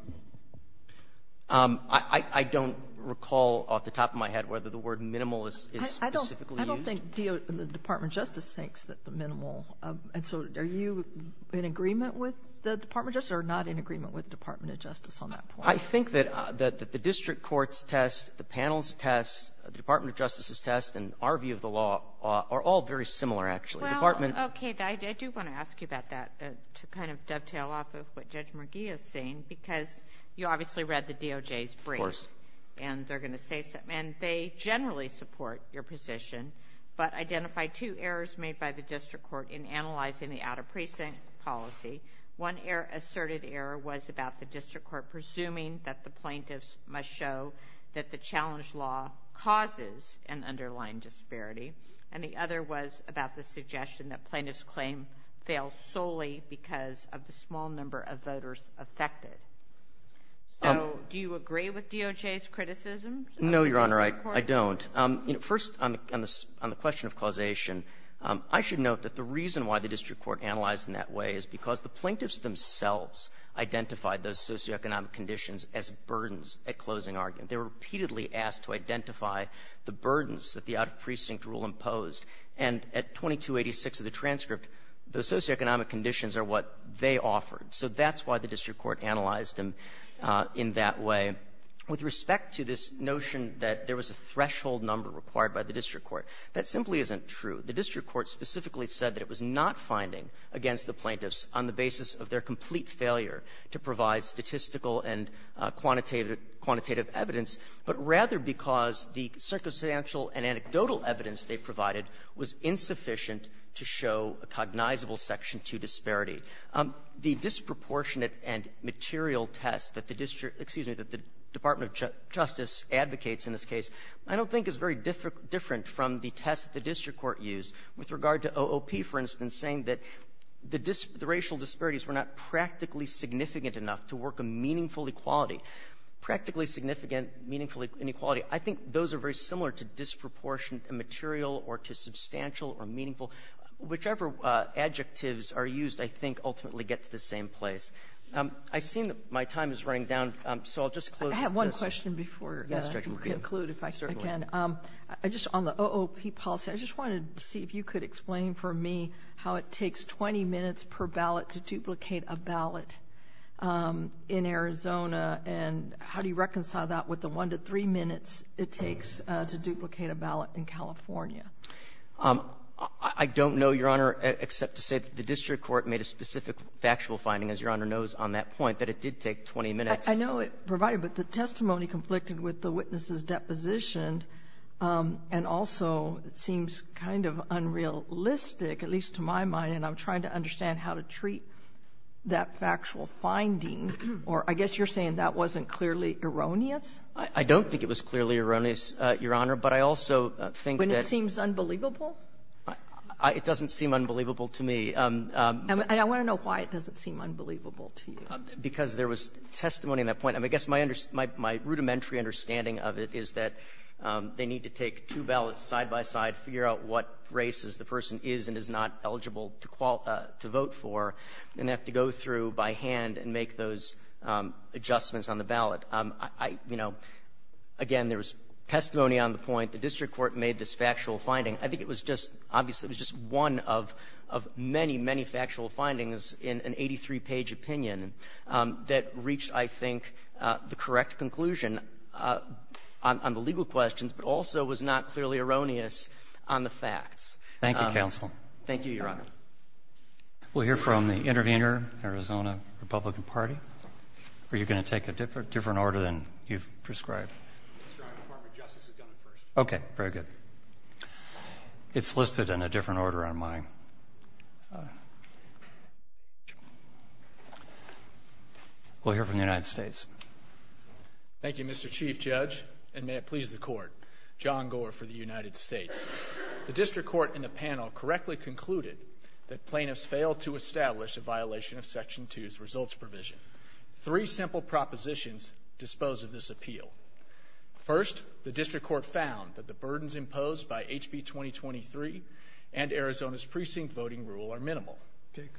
I don't recall off the top of my head whether the word minimal is specifically used. I don't think the Department of Justice thinks that the minimal, and so are you in agreement with the Department of Justice or not in agreement with Department of Justice on that point? I think that the district court's test, the panel's test, the Department of Justice's test, and our view of the law are all very similar, actually. Well, okay, Guy, I do want to ask you about that to kind of dovetail off of what Judge McGee is saying, because you obviously read the DOJ's brief, and they're going to say, and they generally support your position, but identified two errors made by the district court in analyzing the out-of-precinct policy. One error, asserted error, was about the district court presuming that the plaintiffs must show that the challenge law causes an underlying disparity, and the other was about the suggestion that plaintiffs' claims fail solely because of the small number of voters affected. So, do you agree with DOJ's criticisms? No, Your Honor, I don't. First, on the question of causation, I should note that the reason why the district court analyzed in that way is because the plaintiffs themselves identified those socioeconomic conditions as burdens at closing argument. They were repeatedly asked to identify the burdens that the out-of-precinct rule imposed, and at 2286 of the transcript, those socioeconomic conditions are what they offered, so that's why the district court analyzed them in that way. With respect to this notion that there was a threshold number required by the district court, that simply isn't true. The district court specifically said that it was not finding against the plaintiffs on the basis of their complete failure to provide statistical and quantitative evidence, but rather because the circumstantial and anecdotal evidence they provided was insufficient to show a cognizable Section 2 disparity. The disproportionate and that the Department of Justice advocates in this case, I don't think is very different from the test the district court used. With regard to OOP, for instance, saying that the racial disparities were not practically significant enough to work a meaningful equality. Practically significant, meaningful inequality, I think those are very similar to disproportionate and material or to substantial or meaningful. Whichever adjectives are used, I think ultimately gets the same place. I've seen that my time is running down, so I'll just have one question before you conclude. If I start again, I just on the OOP policy, I just wanted to see if you could explain for me how it takes 20 minutes per ballot to duplicate a ballot in Arizona and how do you reconcile that with the one to three minutes it takes to duplicate a ballot in California? I don't know, Your Honor, except to say the district court made a specific factual finding, as Your Honor knows on that point, that it did take 20 minutes. I know it provided, but the testimony conflicted with the witnesses' depositions and also seems kind of unrealistic, at least to my mind, and I'm trying to understand how to treat that factual finding. Or I guess you're saying that wasn't clearly erroneous? I don't think it was clearly erroneous, Your Honor, but I also think that... When it seems unbelievable? It doesn't seem unbelievable to me. And I want to know why it doesn't seem unbelievable to you. Because there was testimony in that point. I mean, I guess my rudimentary understanding of it is that they need to take two ballots side by side, figure out what races the person is and is not eligible to vote for, and they have to go through by hand and make those adjustments on the ballot. You know, again, there was testimony on the point. The district court made this factual finding. I think it was just... Obviously, it was just one of many, many factual findings in an 83-page opinion that reached, I think, the correct conclusion on the legal questions, but also was not clearly erroneous on the facts. Thank you, counsel. Thank you, Your Honor. We'll hear from the intervener, Arizona Republican Party. Are you going to take a different order than you've prescribed? Okay, very good. It's listed in a different order on mine. We'll hear from the United States. Thank you, Mr. Chief Judge, and may it please the court. John Gore for the United States. The district court in the panel correctly concluded that plaintiffs failed to establish a violation of Section 2's results provision. Three simple propositions dispose of this appeal. First, the district court found that the burdens imposed by HB 2023 and Arizona's precinct voting rule are minimal.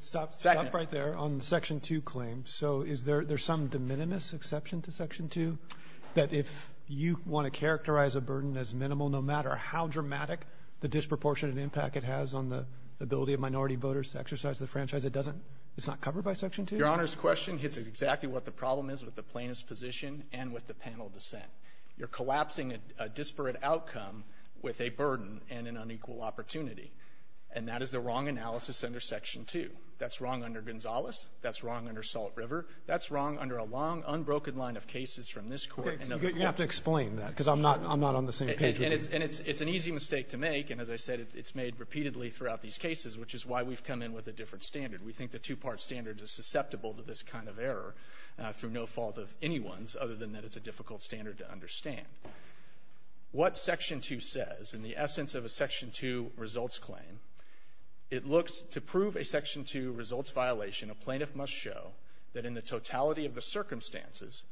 Stop right there on Section 2 claims. So is there some de minimis exception to Section 2 that if you want to characterize a burden as minimal, no matter how dramatic the disproportionate impact it has on the ability of minority voters to exercise the franchise, it's not covered by Section 2? Your Honor's exactly what the problem is with the plaintiff's position and with the panel dissent. You're collapsing a disparate outcome with a burden and an unequal opportunity, and that is the wrong analysis under Section 2. That's wrong under Gonzalez. That's wrong under Salt River. That's wrong under a long, unbroken line of cases from this court. You have to explain that because I'm not on the same page. And it's an easy mistake to make, and as I said, it's made repeatedly throughout these cases, which is why we've come in with a different standard. We think the two-part standard is susceptible to this kind of error through no fault of anyone's other than that it's a difficult standard to understand. What Section 2 says, in the essence of a Section 2 results claim, it looks to prove a Section 2 results violation, a plaintiff must show that in the totality of the circumstances,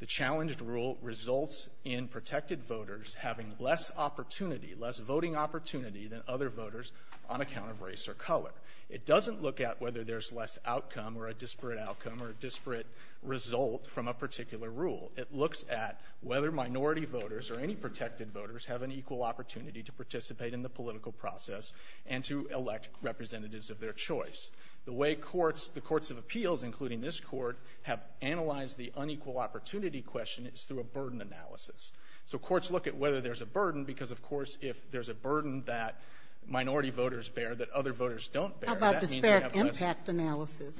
the challenged rule results in protected voters having less opportunity, less voting opportunity than other voters on account of race or color. It doesn't look at whether there's less outcome or a disparate outcome or a disparate result from a particular rule. It looks at whether minority voters or any protected voters have an equal opportunity to participate in the political process and to elect representatives of their choice. The way courts, the courts of appeals, including this court, have analyzed the unequal opportunity question, it's through a burden analysis. So courts look at whether there's a burden because, of course, if there's a burden that minority voters bear that other voters don't bear, that means they have to analyze it.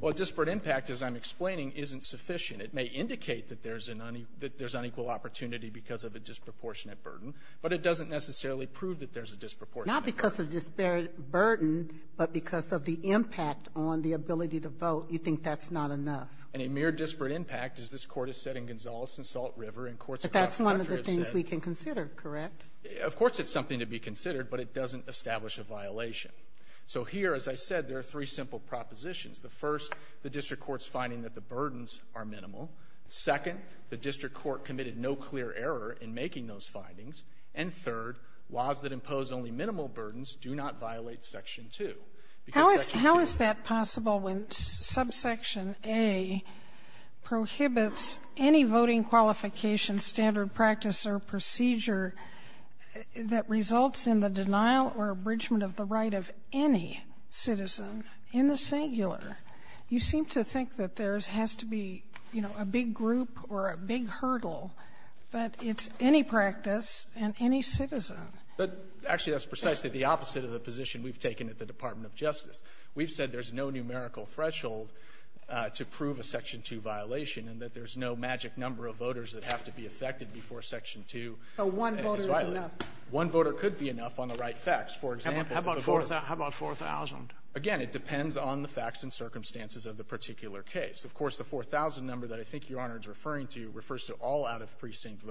Well, disparate impact, as I'm explaining, isn't sufficient. It may indicate that there's an unequal opportunity because of a disproportionate burden, but it doesn't necessarily prove that there's a disproportionate burden. Not because of the burden, but because of the impact on the ability to vote, you think that's not enough. And a mere disparate impact, as this court has said in Gonzales and Salt River and courts across the country have said. That's one of the things we can consider, correct? Of course, it's something to be considered, but it doesn't establish a violation. So here, as I said, there are three simple propositions. The first, the district court's finding that the burdens are minimal. Second, the district court committed no clear error in making those findings. And third, laws that impose only minimal burdens do not violate section two. How is that possible when subsection A prohibits any voting qualification standard practice or procedure that results in the denial or abridgment of the right of any citizen in the singular? You seem to think that there has to be, you know, a big group or a big hurdle, but it's any practice and any citizen. But actually, that's precisely the opposite of the position we've taken at the Department of Justice. We've said there's no numerical threshold to prove a section two violation and that there's no magic number of seconds before section two. One voter could be enough on the right facts. How about 4,000? Again, it depends on the facts and circumstances of the particular case. Of course, the 4,000 number that I think Your Honor is referring to refers to all out-of-precinct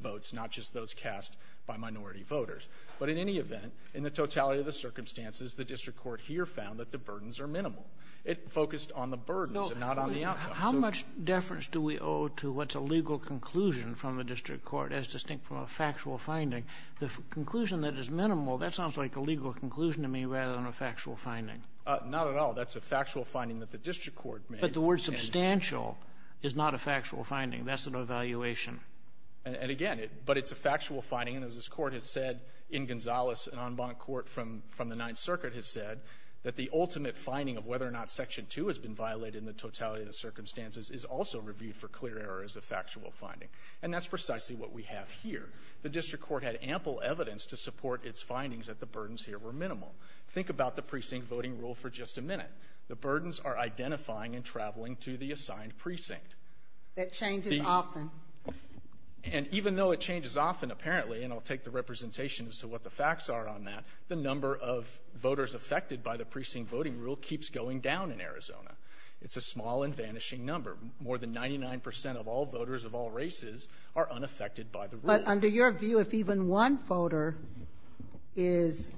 votes, not just those cast by minority voters. But in any event, in the totality of the circumstances, the district court here found that the burdens are minimal. It focused on the burdens and not on the outcome. How much deference do we owe to what's a legal conclusion from a district court as distinct from a factual finding? The conclusion that is minimal, that sounds like a legal conclusion to me rather than a factual finding. Not at all. That's a factual finding that the district court made. But the word substantial is not a factual finding. That's an evaluation. And again, but it's a factual finding and as this court has said in Gonzales, an en banc court from the Ninth Circuit has said that the ultimate finding of whether or not section two has been violated in the totality of the circumstances is also reviewed for clear errors of factual finding. And that's precisely what we have here. The district court had ample evidence to support its findings that the burdens here were minimal. Think about the precinct voting rule for just a minute. The burdens are identifying and traveling to the assigned precinct. That changes often. And even though it changes often apparently, and I'll take the representation as to what the facts are on that, the number of voters affected by the precinct voting rule keeps going down in Arizona. It's a small and vanishing number. More than 99% of all voters of all races are unaffected by the rule. But under your view, if even one voter is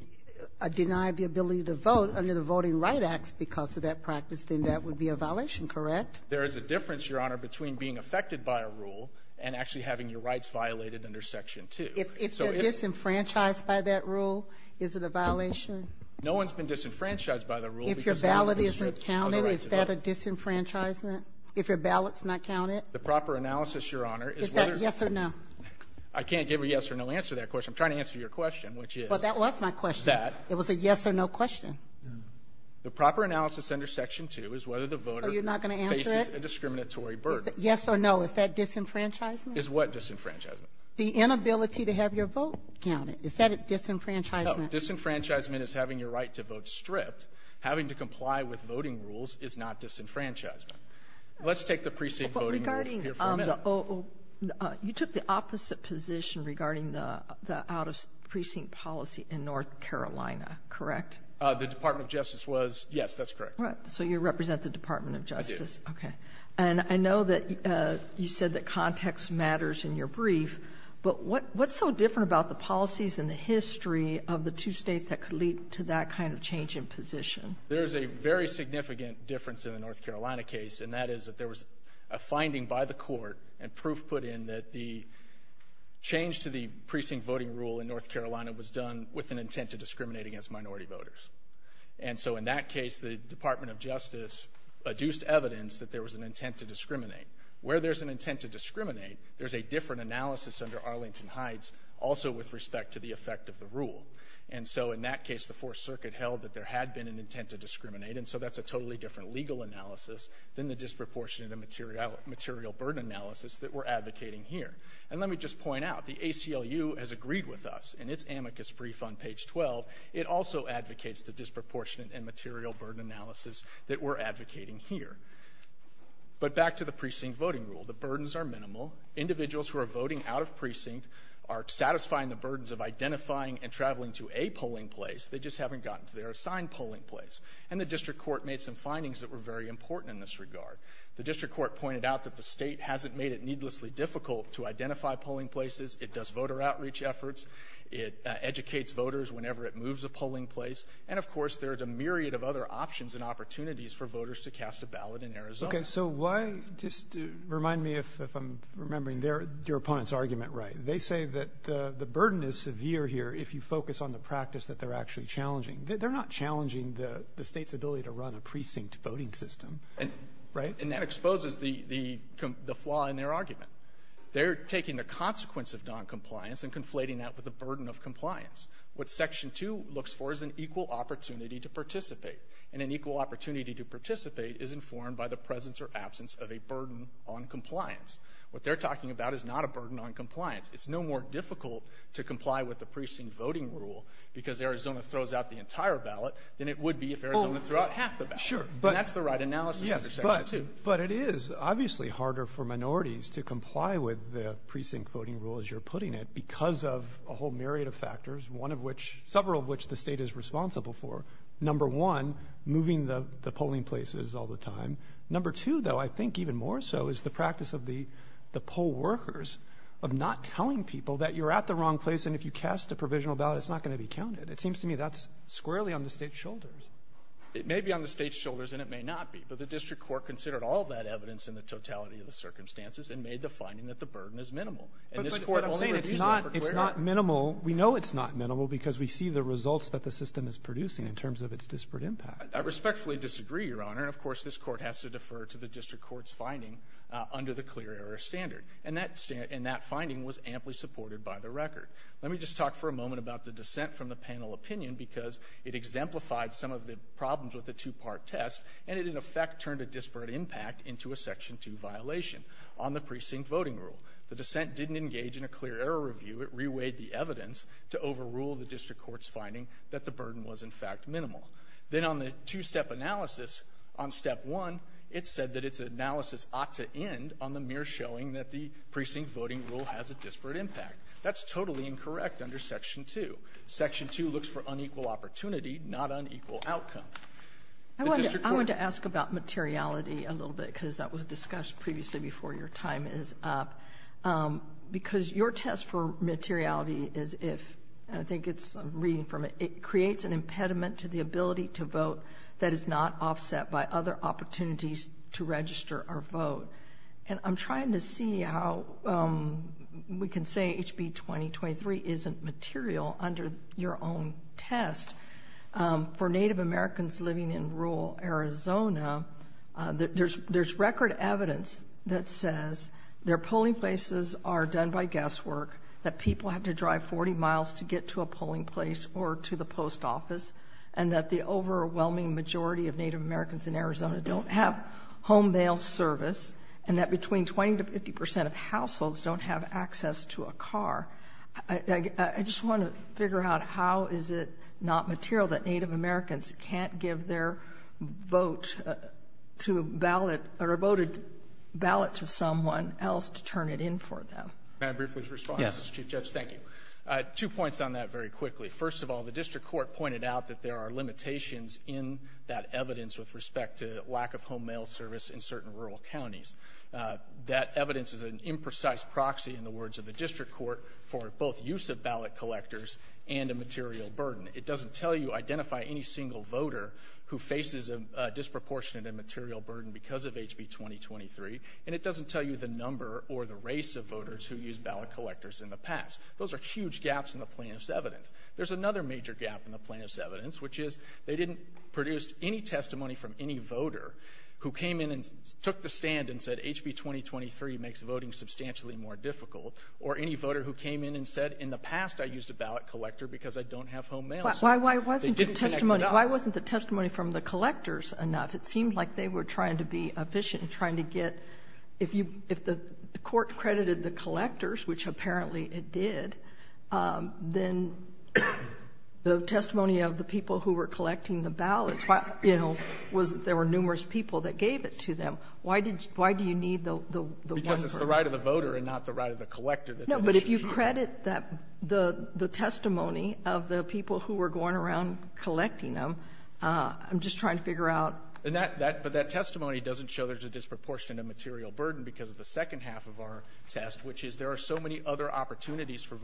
denied the ability to vote under the Voting Rights Act because of that practice, then that would be a violation, correct? There is a difference, Your Honor, between being affected by a rule and actually having your rights violated under section two. If it's disenfranchised by that rule, is it a violation? No one's been disenfranchised by the rule. If your ballot isn't counted, is that a disenfranchisement? If your ballot's not counted? The proper analysis, Your Honor, is whether... Is that a yes or no? I can't give a yes or no answer to that question. I'm trying to answer your question, which is... Well, that was my question. ...is that... It was a yes or no question. The proper analysis under section two is whether the voter... Oh, you're not going to answer it? ...faces a discriminatory burden. Yes or no, is that disenfranchisement? Is what disenfranchisement? The inability to have your vote counted. Is that a disenfranchisement? No, disenfranchisement is having your right to vote stripped. Having to comply with voting rules is not disenfranchisement. Let's take the precinct voting rules here for a minute. But regarding the... You took the opposite position regarding the out-of-precinct policy in North Carolina, correct? The Department of Justice was... Yes, that's correct. All right. So you represent the Department of Justice? I do. Okay. And I know that you said that context matters in your brief, but what's so different about the change in position? There's a very significant difference in the North Carolina case, and that is that there was a finding by the court and proof put in that the change to the precinct voting rule in North Carolina was done with an intent to discriminate against minority voters. And so in that case, the Department of Justice adduced evidence that there was an intent to discriminate. Where there's an intent to discriminate, there's a different analysis under Arlington Heights also with respect to the effect of the rule. And so in that case, the Fourth Circuit held that there had been an intent to discriminate, and so that's a totally different legal analysis than the disproportionate and material burden analysis that we're advocating here. And let me just point out, the ACLU has agreed with us in its amicus brief on page 12. It also advocates the disproportionate and material burden analysis that we're advocating here. But back to the precinct voting rule. The burdens are minimal. Individuals who are voting out of their assigned polling place. And the district court made some findings that were very important in this regard. The district court pointed out that the state hasn't made it needlessly difficult to identify polling places. It does voter outreach efforts. It educates voters whenever it moves a polling place. And of course, there's a myriad of other options and opportunities for voters to cast a ballot in Arizona. Okay, so why, just remind me if I'm remembering your opponent's argument right. They say that the burden is severe here if you focus on the practice that they're actually challenging. They're not challenging the state's ability to run a precinct voting system, right? And that exposes the flaw in their argument. They're taking the consequence of noncompliance and conflating that with the burden of compliance. What section two looks for is an equal opportunity to participate. And an equal opportunity to participate is informed by the presence or absence of a burden on compliance. What they're talking about is not a burden on compliance. It's no more difficult to comply with the precinct voting rule because Arizona throws out the entire ballot than it would be if Arizona threw out half the ballot. Sure. And that's the right analysis for section two. But it is obviously harder for minorities to comply with the precinct voting rule, as you're putting it, because of a whole myriad of factors, one of which, several of which the state is responsible for. Number one, moving the polling places all the time. Number two, though, I think even more so is the practice of the poll workers of not telling people that you're at the wrong place and if you cast a provisional ballot, it's not going to be squarely on the state's shoulders. It may be on the state's shoulders and it may not be. But the district court considered all that evidence in the totality of the circumstances and made the finding that the burden is minimal. It's not minimal. We know it's not minimal because we see the results that the system is producing in terms of its disparate impact. I respectfully disagree, Your Honor. Of course, this court has to defer to the district court's finding under the clear error standard. And that finding was amply supported by the record. Let me just talk for a moment about the dissent from the panel opinion because it exemplified some of the problems with the two-part test and it, in effect, turned a disparate impact into a Section 2 violation on the precinct voting rule. The dissent didn't engage in a clear error review. It reweighed the evidence to overrule the district court's finding that the burden was, in fact, minimal. Then on the two-step analysis on Step 1, it said that its analysis ought to end on the showing that the precinct voting rule has a disparate impact. That's totally incorrect under Section 2. Section 2 looks for unequal opportunity, not unequal outcome. I want to ask about materiality a little bit because that was discussed previously before your time is up because your test for materiality is if – I think it's – I'm reading from it. It creates an impediment to the ability to vote that is not offset by other opportunities to register or vote. I'm trying to see how we can say HB 2023 isn't material under your own test. For Native Americans living in rural Arizona, there's record evidence that says their polling places are done by guesswork, that people have to drive 40 miles to get to a polling place or to the post office, and that the overwhelming majority of Native Americans in Arizona don't have home mail service, and that between 20 to 50 percent of households don't have access to a car. I just want to figure out how is it not material that Native Americans can't give their vote to a ballot – or a voted ballot to someone else to turn it in for them. MR. BOUTROUS. May I briefly respond, Mr. Chief Judge? Thank you. Two points on that very quickly. First of all, the district court pointed out that there are limitations in that evidence with respect to lack of home mail service in certain rural counties. That evidence is an imprecise proxy, in the words of the district court, for both use of ballot collectors and a material burden. It doesn't tell you identify any single voter who faces a disproportionate and material burden because of HB 2023, and it doesn't tell you the number or the race of voters who used ballot collectors in the past. Those are huge gaps in the plaintiff's evidence. There's another major gap in the plaintiff's evidence, which is they didn't produce any testimony from any voter who came in and took the stand and said HB 2023 makes voting substantially more difficult, or any voter who came in and said, in the past, I used a ballot collector because I don't have home mail. They didn't connect it up. MS. MCCARTHY. Why wasn't the testimony from the collectors enough? It seems like they were trying to be efficient in trying to get – if the court credited the collectors, which apparently it did, then the testimony of the people who were collecting the ballots, you know, was that there were numerous people that gave it to them. Why did – why do you need the one part? MR. HENRY. Because it's the right of the voter and not the right of the collector. MS. MCCARTHY. No, but if you credit that – the testimony of the people who were going around collecting them, I'm just trying to figure out – MR. HENRY. And that – but that testimony doesn't show there's a disproportionate and material burden because of the second half of our test, which is there are so many other opportunities for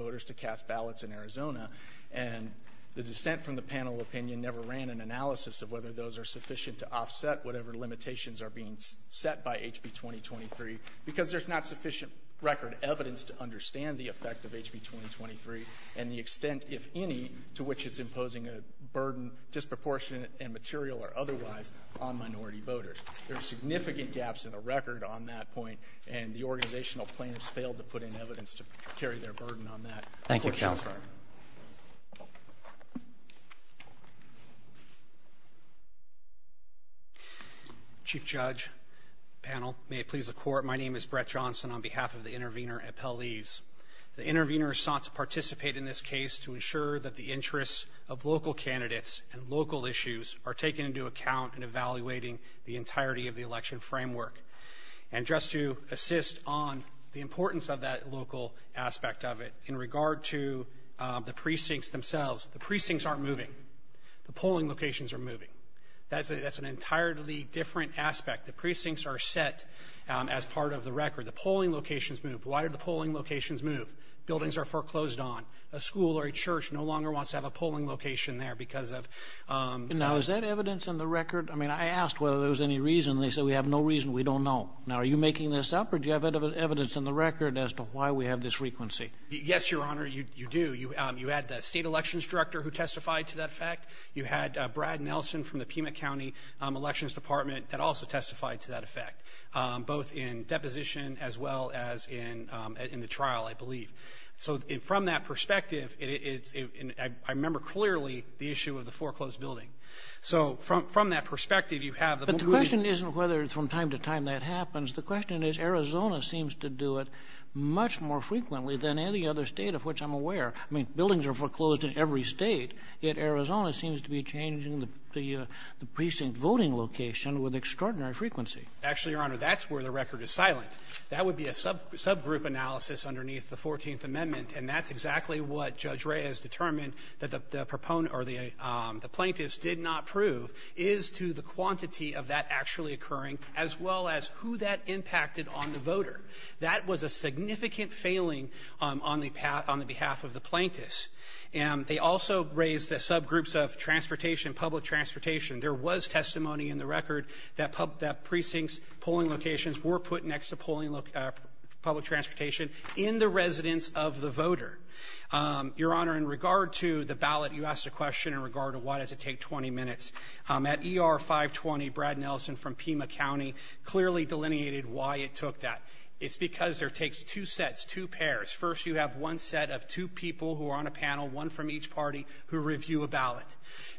Arizona. And the dissent from the panel opinion never ran an analysis of whether those are sufficient to offset whatever limitations are being set by HB 2023 because there's not sufficient record evidence to understand the effect of HB 2023 and the extent, if any, to which it's imposing a burden, disproportionate and material or otherwise, on minority voters. There are significant gaps in the record on that point, and the organizational plaintiffs failed to put in evidence to carry their burden on that. MR. HENRY. Thank you, Counselor. MR. JOHNSON. Chief Judge, panel, may it please the Court, my name is Brett Johnson on behalf of the Intervenor Appellees. The Intervenor is sought to participate in this case to ensure that the interests of local candidates and local issues are taken into account in evaluating the entirety of the election framework. And just to assist on the importance of that local aspect of it, in regard to the precincts themselves, the precincts aren't moving. The polling locations are moving. That's an entirely different aspect. The precincts are set as part of the record. The polling locations move. Why do the polling locations move? Buildings are foreclosed on. A school or a church no longer wants to have a polling location there because of that. MR. HENRY. Now, is that evidence in the record? I mean, I asked whether there was any reason. They said, we have no reason. We don't know. Now, are you making this up, or do you have evidence in the record as to why we have this frequency? MR. JOHNSON. Yes, Your Honor, you do. You had the State Elections Director who testified to that fact. You had Brad Nelson from the Pima County Elections Department that also testified to that effect, both in deposition as well as in the trial, I believe. So from that perspective, I remember clearly the issue of the foreclosed building. So from that perspective, you have... MR. HENRY. But the question isn't whether it's from time to time that happens. The question is Arizona seems to do it much more frequently than any other state of which I'm aware. I mean, buildings are foreclosed in every state, yet Arizona seems to be changing the precinct voting location with extraordinary frequency. MR. JOHNSON. Actually, Your Honor, that's where the record is silent. That would be a subgroup analysis underneath the 14th Amendment, and that's exactly what Judge Reyes determined that the proponent or the plaintiffs did not prove is to the quantity of that actually occurring as well as who that impacted on the voter. That was a significant failing on the behalf of the plaintiffs. And they also raised the subgroups of transportation, public transportation. There was testimony in the record that precincts, were put next to public transportation in the residence of the voter. Your Honor, in regard to the ballot, you asked a question in regard to why does it take 20 minutes. At ER 520, Brad Nelson from Pima County clearly delineated why it took that. It's because there takes two sets, two pairs. First, you have one set of two people who are on a panel, one from each party, who review a ballot.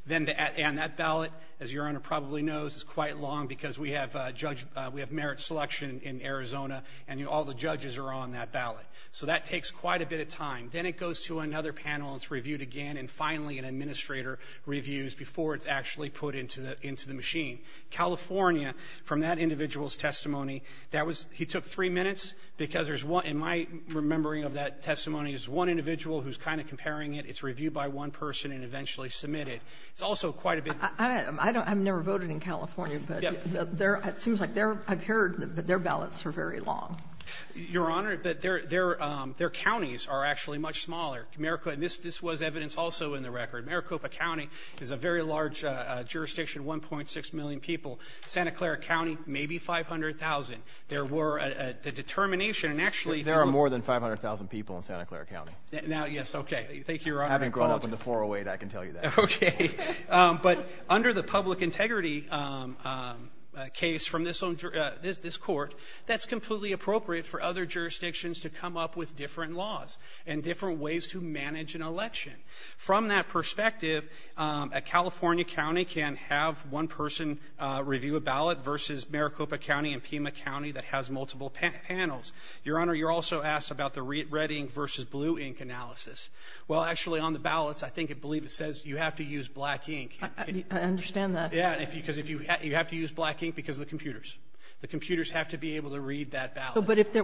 And that ballot, as Your Honor probably knows, is quite long because we have merit selection in Arizona, and all the judges are on that ballot. So that takes quite a bit of time. Then it goes to another panel, it's reviewed again, and finally an administrator reviews before it's actually put into the machine. California, from that individual's testimony, that was, he took three minutes because there's one, in my remembering of that testimony, there's one individual who's kind of comparing it. It's never voted in California, but it seems like I've heard them, but their ballots are very long. Your Honor, their counties are actually much smaller. This was evidence also in the record. Maricopa County is a very large jurisdiction, 1.6 million people. Santa Clara County, maybe 500,000. There were a determination and actually... There are more than 500,000 people in Santa Clara County. Now, yes, okay. Thank you, Your Honor. Having grown up in the 408, I can tell you that. Okay. But under the public integrity case from this court, that's completely appropriate for other jurisdictions to come up with different laws and different ways to manage an election. From that perspective, a California county can have one person review a ballot versus Maricopa County and Pima County that has multiple panels. Your Honor, you're also asked about the red ink versus blue ink analysis. Well, actually, on the ballots, I believe it says you have to use black ink. I understand that. Yeah, because you have to use black ink because of the computers. The computers have to be able to read that ballot. But if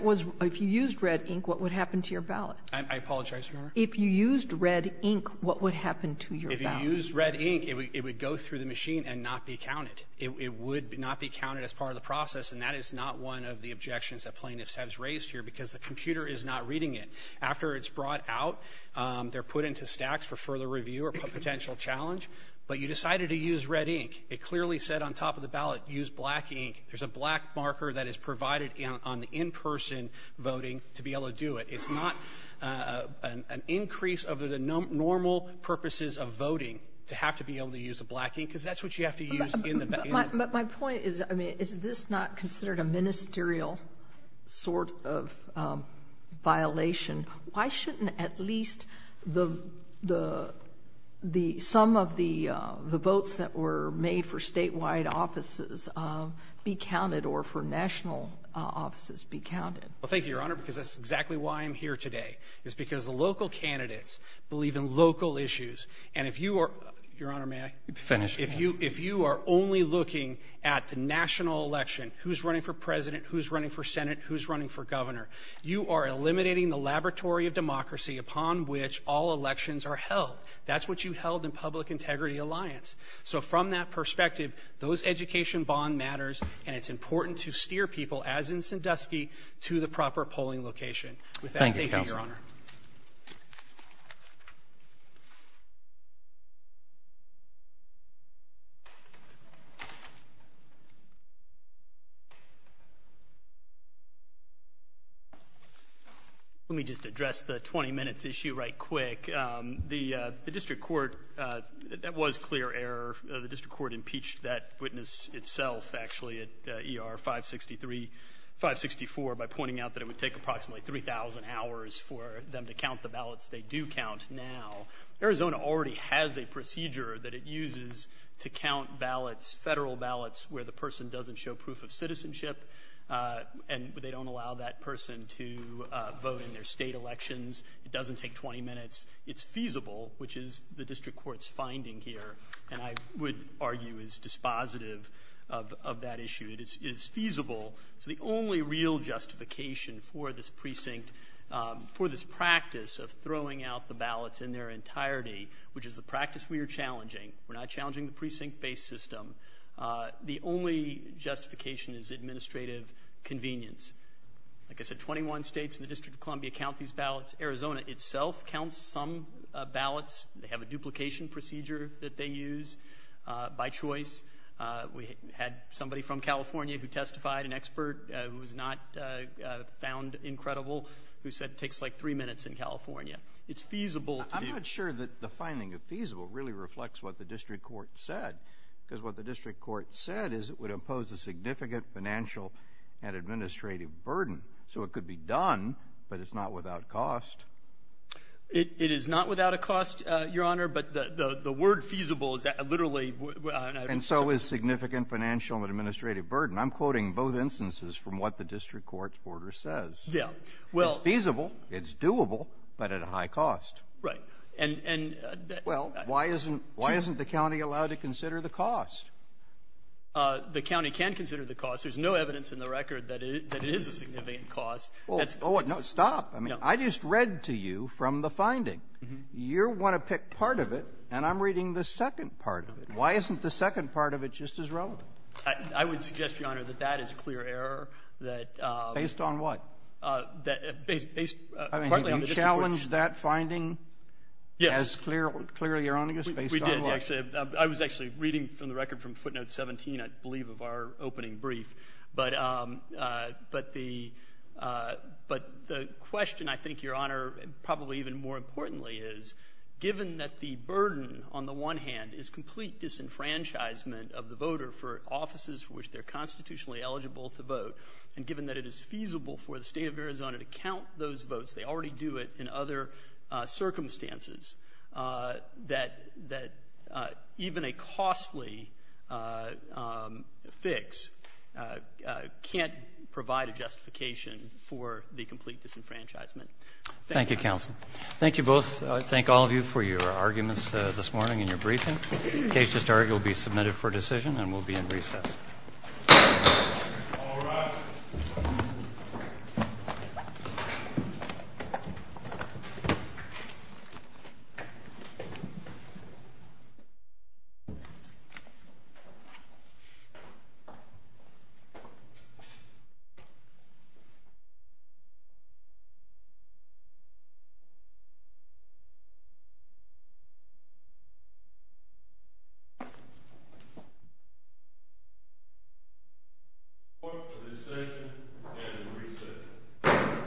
you used red ink, what would happen to your ballot? I apologize, Your Honor? If you used red ink, what would happen to your ballot? If you used red ink, it would go through the machine and not be counted. It would not be counted as part of the process, and that is not one of the objections that plaintiffs have raised here because the computer is not reading it. After it's brought out, they're put into stacks for further review or potential challenge. But you decided to use red ink. It clearly said on top of the ballot, use black ink. There's a black marker that is provided on the in-person voting to be able to do it. It's not an increase of the normal purposes of voting to have to be able to use the black ink because that's what you have to use in the ballot. My point is, I mean, is this not considered a ministerial sort of violation? Why shouldn't at least the sum of the votes that were made for statewide offices be counted or for national offices be counted? Well, thank you, Your Honor, because that's exactly why I'm here today, is because the local candidates believe in local issues. And if you are, Your Honor, may I finish? If you are only looking at the national election, who's running for president, who's running for Senate, who's running for governor, you are eliminating the laboratory of democracy upon which all elections are held. That's what you held in Public Integrity Alliance. So from that perspective, those education bond matters, and it's important to steer people, as in Sandusky, to the proper polling location. With that, thank you, Your Honor. Let me just address the 20 minutes issue right quick. The district court, that was clear error. The district court impeached that witness itself, actually, at ER 563, 564, by pointing out that it would take approximately 3,000 hours for them to count the ballots they do count now. Arizona already has a procedure that it uses to count ballots, federal ballots, where the person doesn't show proof of citizenship, and they don't allow that person to vote in their state elections. It doesn't take 20 minutes. It's feasible, which is the district court's finding here, and I would argue is dispositive of that issue. It is feasible. So the only real justification for this precinct, for this practice of throwing out the ballots in their entirety, which is the practice we are based on, the only justification is administrative convenience. Like I said, 21 states and the District of Columbia count these ballots. Arizona itself counts some ballots. They have a duplication procedure that they use by choice. We had somebody from California who testified, an expert who was not found incredible, who said it takes like three minutes in California. It's feasible. I'm not sure that the finding of feasible really reflects what the district court said, because what the district court said is it would impose a significant financial and administrative burden. So it could be done, but it's not without cost. It is not without a cost, Your Honor, but the word feasible literally... And so is significant financial and administrative burden. I'm quoting both instances from what the district court's order says. It's feasible, it's doable, but at a high cost. Well, why isn't the county allowed to consider the cost? The county can consider the cost. There's no evidence in the record that it is a significant cost. Oh, no, stop. I just read to you from the finding. You want to pick part of it, and I'm reading the second part of it. Why isn't the second part of it just as relevant? I would suggest, Your Honor, that that is clear error, that... Based on what? You challenged that finding as clearly erroneous, based on what? I was actually reading from the record from footnote 17, I believe, of our opening brief, but the question, I think, Your Honor, probably even more importantly is, given that the burden on the one hand is complete disenfranchisement of the voter for offices for which they're constitutionally eligible to vote, and given that it is feasible for the state of Arizona to count those votes, they already do it in other circumstances, that even a costly fix can't provide a justification for the complete disenfranchisement. Thank you, counsel. Thank you both. I thank all of you for your arguments this morning and your briefing. In case you start, you'll be submitted for decision, and we'll be in recess. Court is adjourned and in recess.